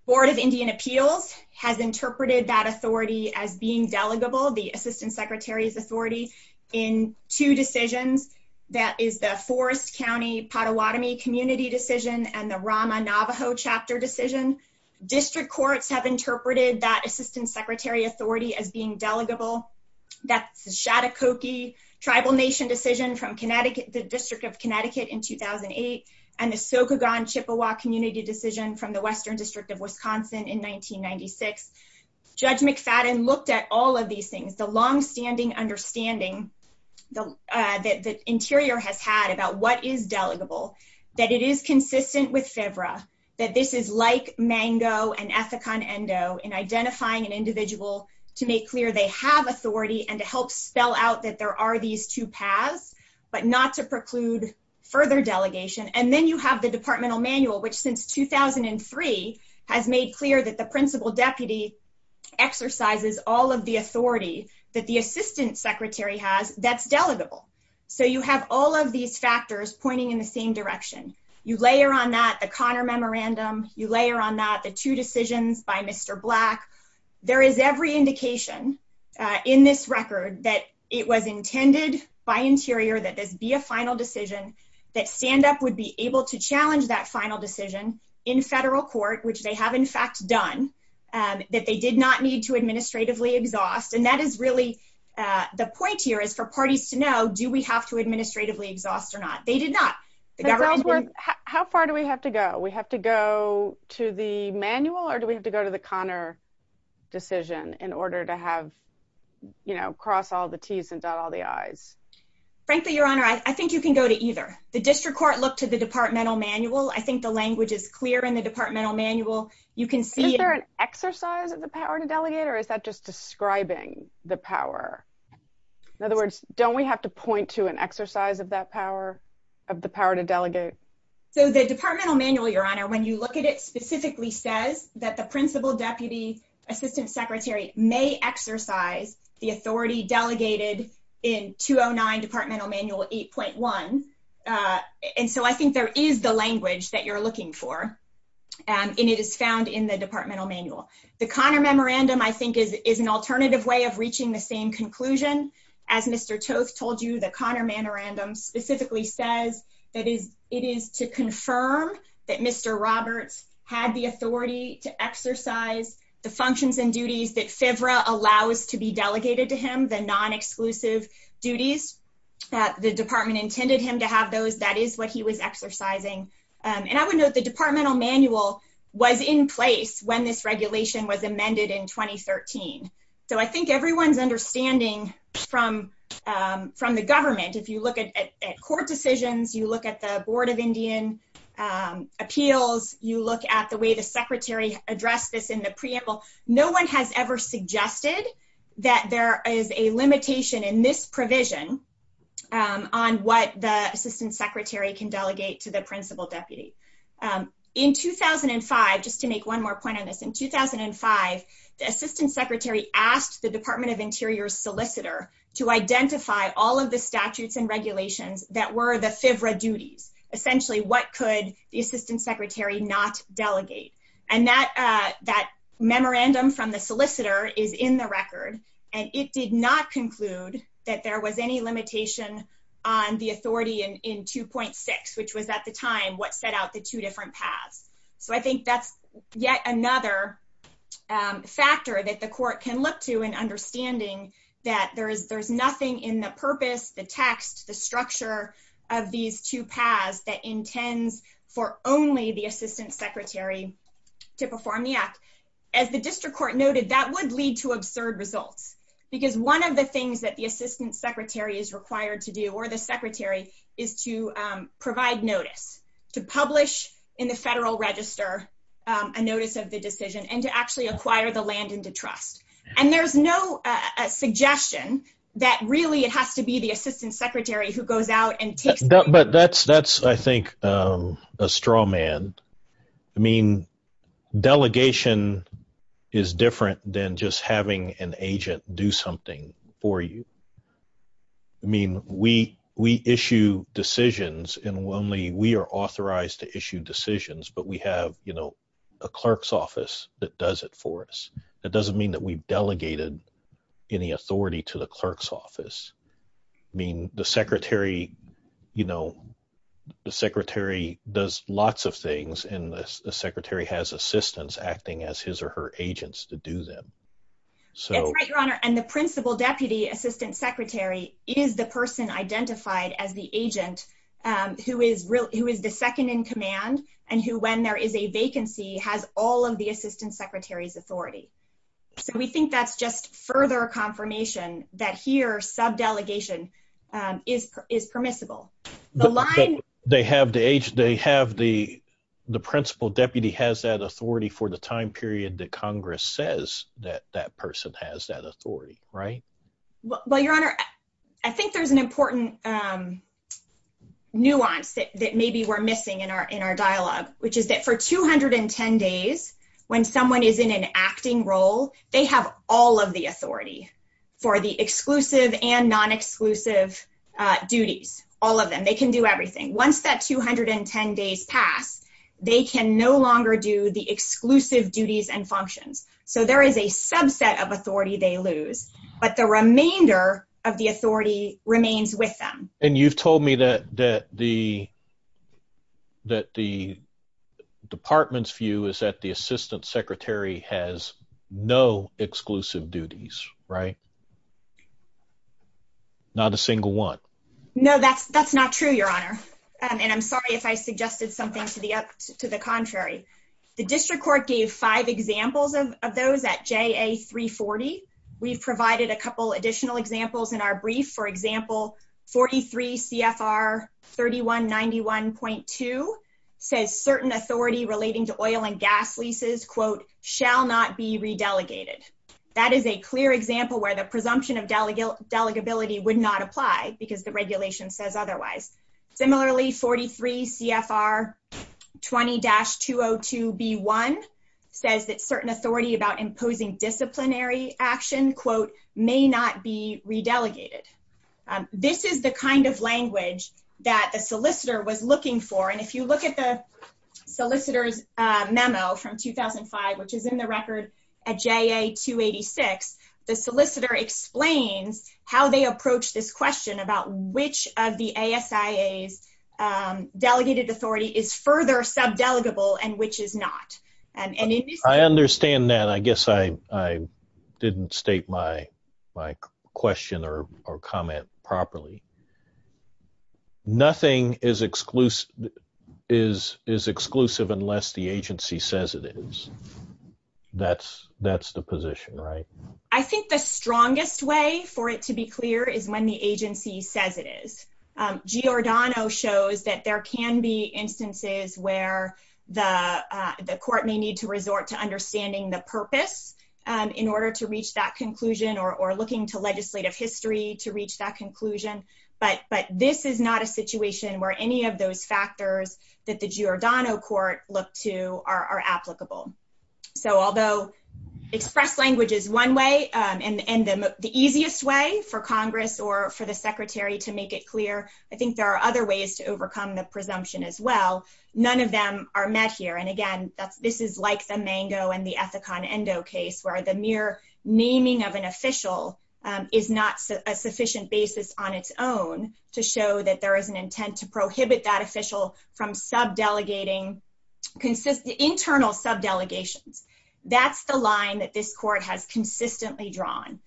Board of Indian Appeals has interpreted that authority as being delegable, the assistant secretary's authority, in two decisions. That is the Forest County Pottawatomie community decision and the Rama Navajo chapter decision. District courts have tribal nation decision from the District of Connecticut in 2008 and the Sokogon Chippewa community decision from the Western District of Wisconsin in 1996. Judge McFadden looked at all of these things, the longstanding understanding that the Interior has had about what is delegable, that it is consistent with FVRA, that this is like Mango and Ethicon Endo in identifying an these two paths, but not to preclude further delegation. And then you have the departmental manual, which since 2003 has made clear that the principal deputy exercises all of the authority that the assistant secretary has that's delegable. So you have all of these factors pointing in the same direction. You layer on that the Connor Memorandum. You layer on that the two decisions by Mr. Black. There is every indication in this record that it was intended by Interior that this be a final decision, that standup would be able to challenge that final decision in federal court, which they have in fact done, that they did not need to administratively exhaust. And that is really the point here is for parties to know, do we have to administratively exhaust or not? They did not. How far do we have to go? We have to go to the manual, or do we have to go to the Connor decision in order to have, you know, cross all the T's and dot all the I's? Frankly, Your Honor, I think you can go to either. The district court looked to the departmental manual. I think the language is clear in the departmental manual. You can see- Is there an exercise of the power to delegate, or is that just describing the power? In other words, don't we have to point to an exercise of that power, of the power to delegate? So the departmental manual, Your Honor, when you look at it, specifically says that the principal deputy assistant secretary may exercise the authority delegated in 209 departmental manual 8.1. And so I think there is the language that you're looking for, and it is found in the departmental manual. The Connor memorandum, I think, is an alternative way of reaching the same conclusion. As Mr. Toth told you, the Connor memorandum specifically says that it is to confirm that Mr. Roberts had the authority to exercise the functions and duties that FVRA allows to be delegated to him, the non-exclusive duties that the department intended him to have those. That is what he was exercising. And I would note the departmental manual was in place when this regulation was amended in 2013. So I think everyone's understanding from the government, if you look at court decisions, you look at the Board of Indian Appeals, you look at the way the secretary addressed this in the preamble, no one has ever suggested that there is a limitation in this provision on what the assistant secretary can delegate to the principal deputy. In 2005, just to make one more point on this, in 2005, the assistant secretary asked the Department of Interior's solicitor to identify all of the statutes and regulations that were the FVRA duties. Essentially, what could the assistant secretary not delegate? And that memorandum from the solicitor is in the record, and it did not conclude that there was any limitation on the authority in 2.6, which was at the time what set the two different paths. So I think that's yet another factor that the court can look to in understanding that there's nothing in the purpose, the text, the structure of these two paths that intends for only the assistant secretary to perform the act. As the district court noted, that would lead to absurd results. Because one of the things that the assistant secretary is to do is to provide notice, to publish in the federal register a notice of the decision, and to actually acquire the land into trust. And there's no suggestion that really it has to be the assistant secretary who goes out and takes- But that's, I think, a straw man. I mean, delegation is different than just having an agent do something for you. I mean, we issue decisions, and only we are authorized to issue decisions, but we have a clerk's office that does it for us. That doesn't mean that we've delegated any authority to the clerk's office. I mean, the secretary does lots of things, and the secretary has assistants acting as his or her agents to do them. That's right, Your Honor. And the principal deputy assistant secretary is the person identified as the agent who is the second in command, and who, when there is a vacancy, has all of the assistant secretary's authority. So we think that's just further confirmation that here, subdelegation is permissible. The line- But they have the principal deputy has that authority for the time period that Congress says that that person has that authority, right? Well, Your Honor, I think there's an important nuance that maybe we're missing in our dialogue, which is that for 210 days, when someone is in an acting role, they have all of the authority for the exclusive and non-exclusive duties, all of them. They can do everything. Once that 210 days pass, they can no longer do the exclusive duties and functions. So there is a subset of them. The remainder of the authority remains with them. And you've told me that the department's view is that the assistant secretary has no exclusive duties, right? Not a single one. No, that's not true, Your Honor. And I'm sorry if I suggested something to the contrary. The district court gave five examples of those at JA 340. We've provided a couple additional examples in our brief. For example, 43 CFR 3191.2 says certain authority relating to oil and gas leases, quote, shall not be re-delegated. That is a clear example where the presumption of delegability would not apply because the regulation says otherwise. Similarly, 43 CFR 20-202B1 says that certain authority about imposing disciplinary action, quote, may not be re-delegated. This is the kind of language that the solicitor was looking for. And if you look at the solicitor's memo from 2005, which is in the record at JA 286, the solicitor explains how they approach this question about which of the ASIA's delegated authority is further sub-delegable and which is not. I understand that. I guess I didn't state my question or comment properly. Nothing is exclusive unless the agency says it is. That's the position, right? I think the strongest way for it to be clear is when the agency says it is. Giordano shows that there can be instances where the court may need to resort to understanding the purpose in order to reach that conclusion or looking to legislative history to reach that conclusion. But this is not a situation where any of those factors that the Giordano court looked to are applicable. So although express language is one way, and the easiest way for I think there are other ways to overcome the presumption as well, none of them are met here. And again, this is like the Mango and the Ethicon Endo case where the mere naming of an official is not a sufficient basis on its own to show that there is an intent to prohibit that official from sub-delegating, internal sub-delegations. That's the line that this court has consistently drawn.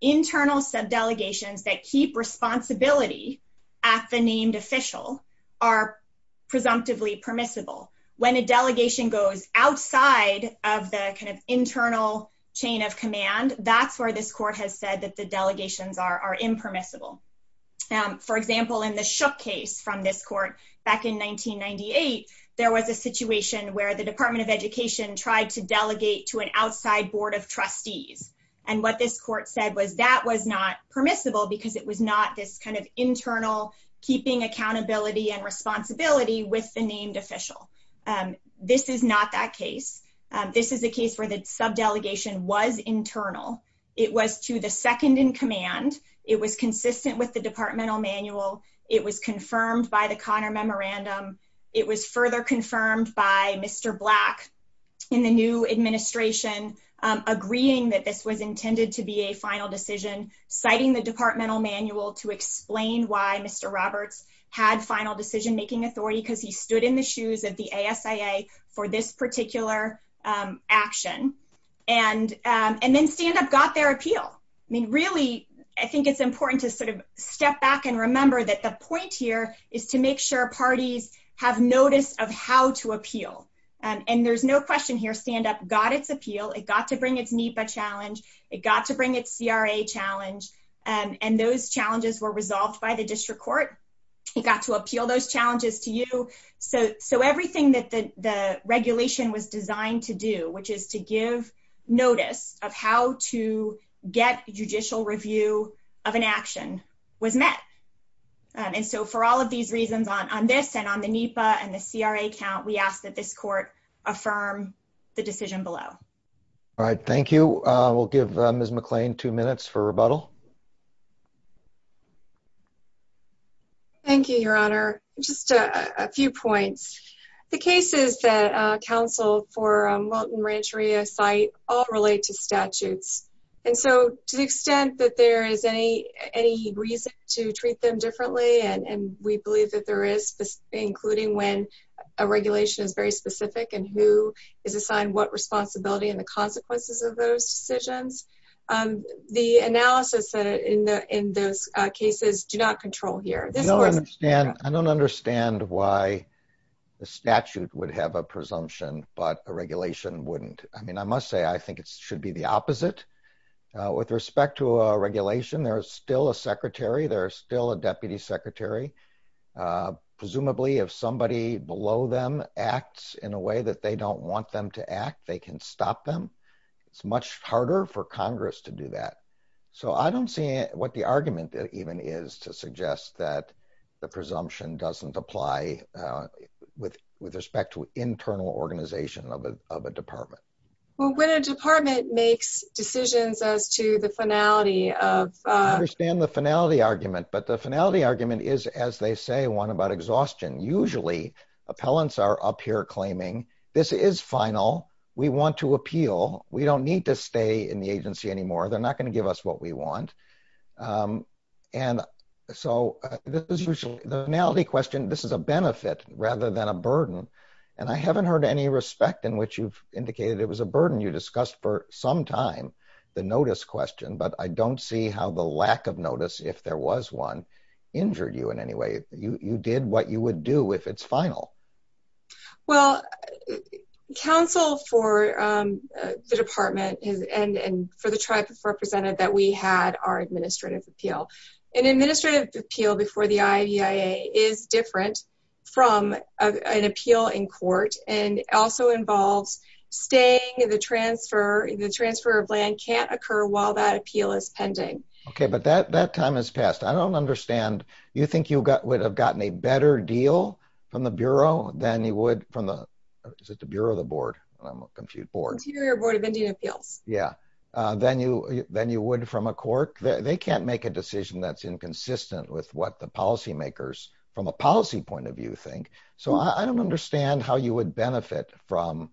Internal sub-delegations that keep responsibility at the named official are presumptively permissible. When a delegation goes outside of the internal chain of command, that's where this court has said that the delegations are impermissible. For example, in the Shook case from this court back in 1998, there was a situation where the this court said was that was not permissible because it was not this kind of internal keeping accountability and responsibility with the named official. This is not that case. This is a case where the sub-delegation was internal. It was to the second in command. It was consistent with the departmental manual. It was confirmed by the Connor Memorandum. It was further confirmed by Mr. Black in the new administration, agreeing that this was intended to be a final decision, citing the departmental manual to explain why Mr. Roberts had final decision-making authority because he stood in the shoes of the ASIA for this particular action. And then stand-up got their appeal. I mean, really, I think it's important to sort of step back and remember that the point here is to make sure parties have notice of how to appeal. And there's no question here, stand-up got its appeal. It got to bring its NEPA challenge. It got to bring its CRA challenge. And those challenges were resolved by the district court. It got to appeal those challenges to you. So everything that the regulation was designed to do, which is to give notice of how to get judicial review of an action, was met. And so for all of these reasons on this and on the NEPA and the CRA count, we ask that this court affirm the decision below. All right. Thank you. We'll give Ms. McClain two minutes for rebuttal. Thank you, Your Honor. Just a few points. The cases that counsel for Welton Rancheria cite all relate to statutes. And so to the extent that there is any reason to treat them differently, and we believe that there is, including when a regulation is very specific and who is assigned what responsibility and the consequences of those decisions, the analysis in those cases do not control here. I don't understand why the statute would have a presumption, but a regulation wouldn't. I mean, I must say, I think it should be the opposite. With respect to a regulation, there is still a secretary. There is still a deputy secretary. Presumably, if somebody below them acts in a way that they don't want them to act, they can stop them. It's much harder for Congress to do that. So I don't see what the argument even is to suggest that the presumption doesn't apply with respect to internal organization of a department. Well, when a department makes decisions as to the finality of... I understand the finality argument, but the finality argument is, as they say, one about exhaustion. Usually, appellants are up here claiming, this is final. We want to appeal. We don't need to stay in the agency anymore. They're not going to give us what we want. And so the finality question, this is a benefit rather than a burden. And I haven't heard any respect in which you've indicated it was a burden. You discussed for some time the notice question, but I don't see how the lack of notice, if there was one, injured you in any way. You did what you would do if it's final. Well, counsel for the department and for the tribe represented that we had our administrative appeal. An administrative appeal before the IAEA is different from an appeal in court and also involves staying in the transfer. The transfer of land can't occur while that appeal is pending. Okay, but that time has passed. I don't understand. You think you would have gotten a better deal from the Bureau than you would from the, is it the Bureau of the Board? I'm a compute board. Interior Board of Indian Appeals. Yeah, than you would from a court. They can't make a decision that's inconsistent with what the policymakers, from a policy point of view, think. So I don't understand how you would benefit from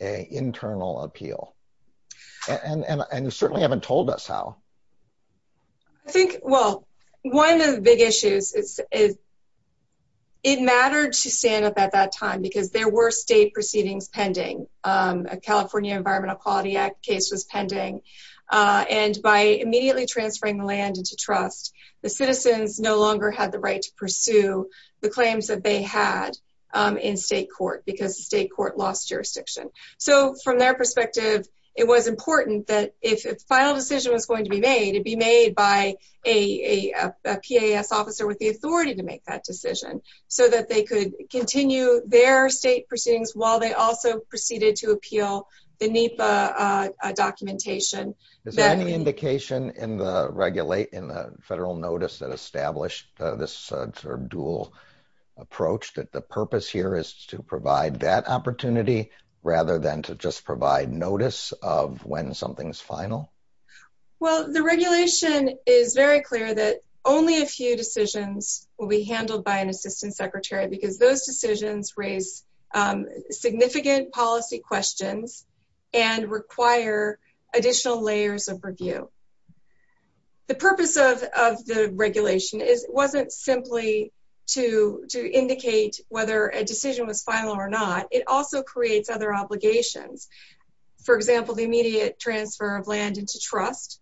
an internal appeal. And you certainly haven't told us how. I think, well, one of the big issues is it mattered to stand up at that time, because there were state proceedings pending. A California Environmental Quality Act case was pending. And by immediately transferring the land into trust, the citizens no longer had the right to pursue the claims that they had in state court, because the state court lost jurisdiction. So from their perspective, it was important that if a final decision was going to be made, it be made by a PAS officer with the authority to make that decision, so that they could continue their state proceedings while they also proceeded to appeal the NEPA documentation. Is there any indication in the Federal Notice that established this sort of dual approach, that the purpose here is to provide that opportunity, rather than to just provide notice of when something's final? Well, the regulation is very clear that only a few decisions will be handled by an assistant secretary, because those decisions raise significant policy questions and require additional layers of review. The purpose of the regulation wasn't simply to indicate whether a decision was final or not. It also creates other obligations. For example, the immediate transfer of land into trust,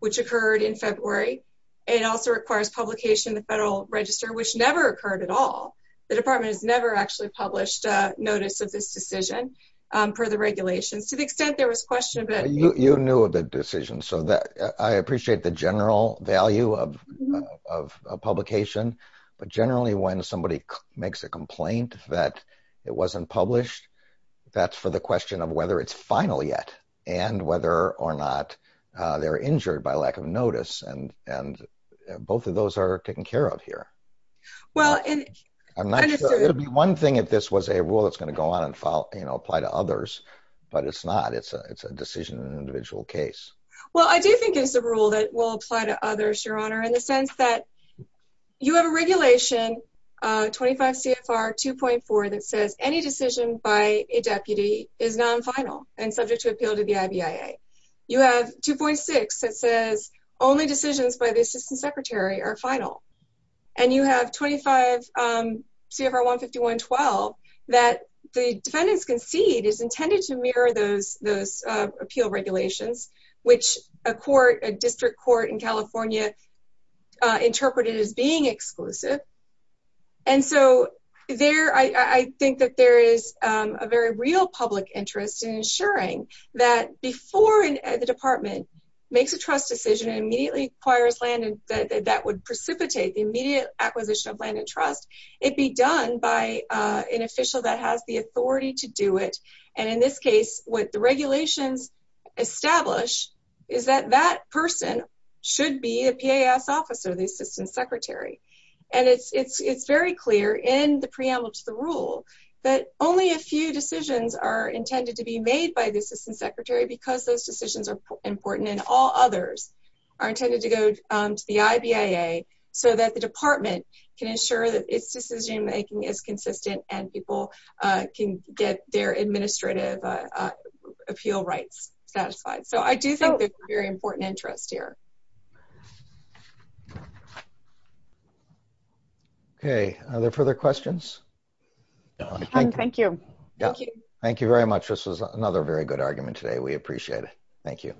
which occurred in February, and also requires publication in the Federal Register, which never occurred at all. The Department has never actually published a notice of this decision per the regulations, to the extent there was question of it. You knew of the decision, so I appreciate the general value of a publication. But generally, when somebody makes a complaint that it wasn't published, that's for the question of whether it's final yet, and whether or not they're injured by lack of notice. And both of those are taken care of here. It would be one thing if this was a rule that's going to go on and apply to others, but it's not. It's a decision in an individual case. Well, I do think it's a rule that will apply to others, Your Honor, in the sense that you have a regulation, 25 CFR 2.4, that says any decision by a deputy is non-final and subject to appeal to the IBIA. You have 2.6 that says only decisions by the Assistant Secretary are final. And you have 25 CFR 151-12 that the defendants concede is intended to mirror those appeal regulations, which a court, a district court in California, interpreted as being exclusive. And so there, I think that there is a very real public interest in ensuring that before the department makes a trust decision and immediately acquires land that would precipitate the immediate acquisition of land and trust, it be done by an official that has the authority to do it. And in this case, what the regulations establish is that that person should be a PAS officer, the Assistant Secretary. And it's very clear in the preamble to the rule that only a few decisions are intended to be made by the Assistant Secretary because those decisions are important and all others are intended to go to the IBIA so that the department can ensure that its decision making is consistent and people can get their administrative appeal rights satisfied. So I do think there's a very important interest here. Okay, are there further questions? Thank you. Thank you very much. This was another very good argument today. We appreciate it. Thank you.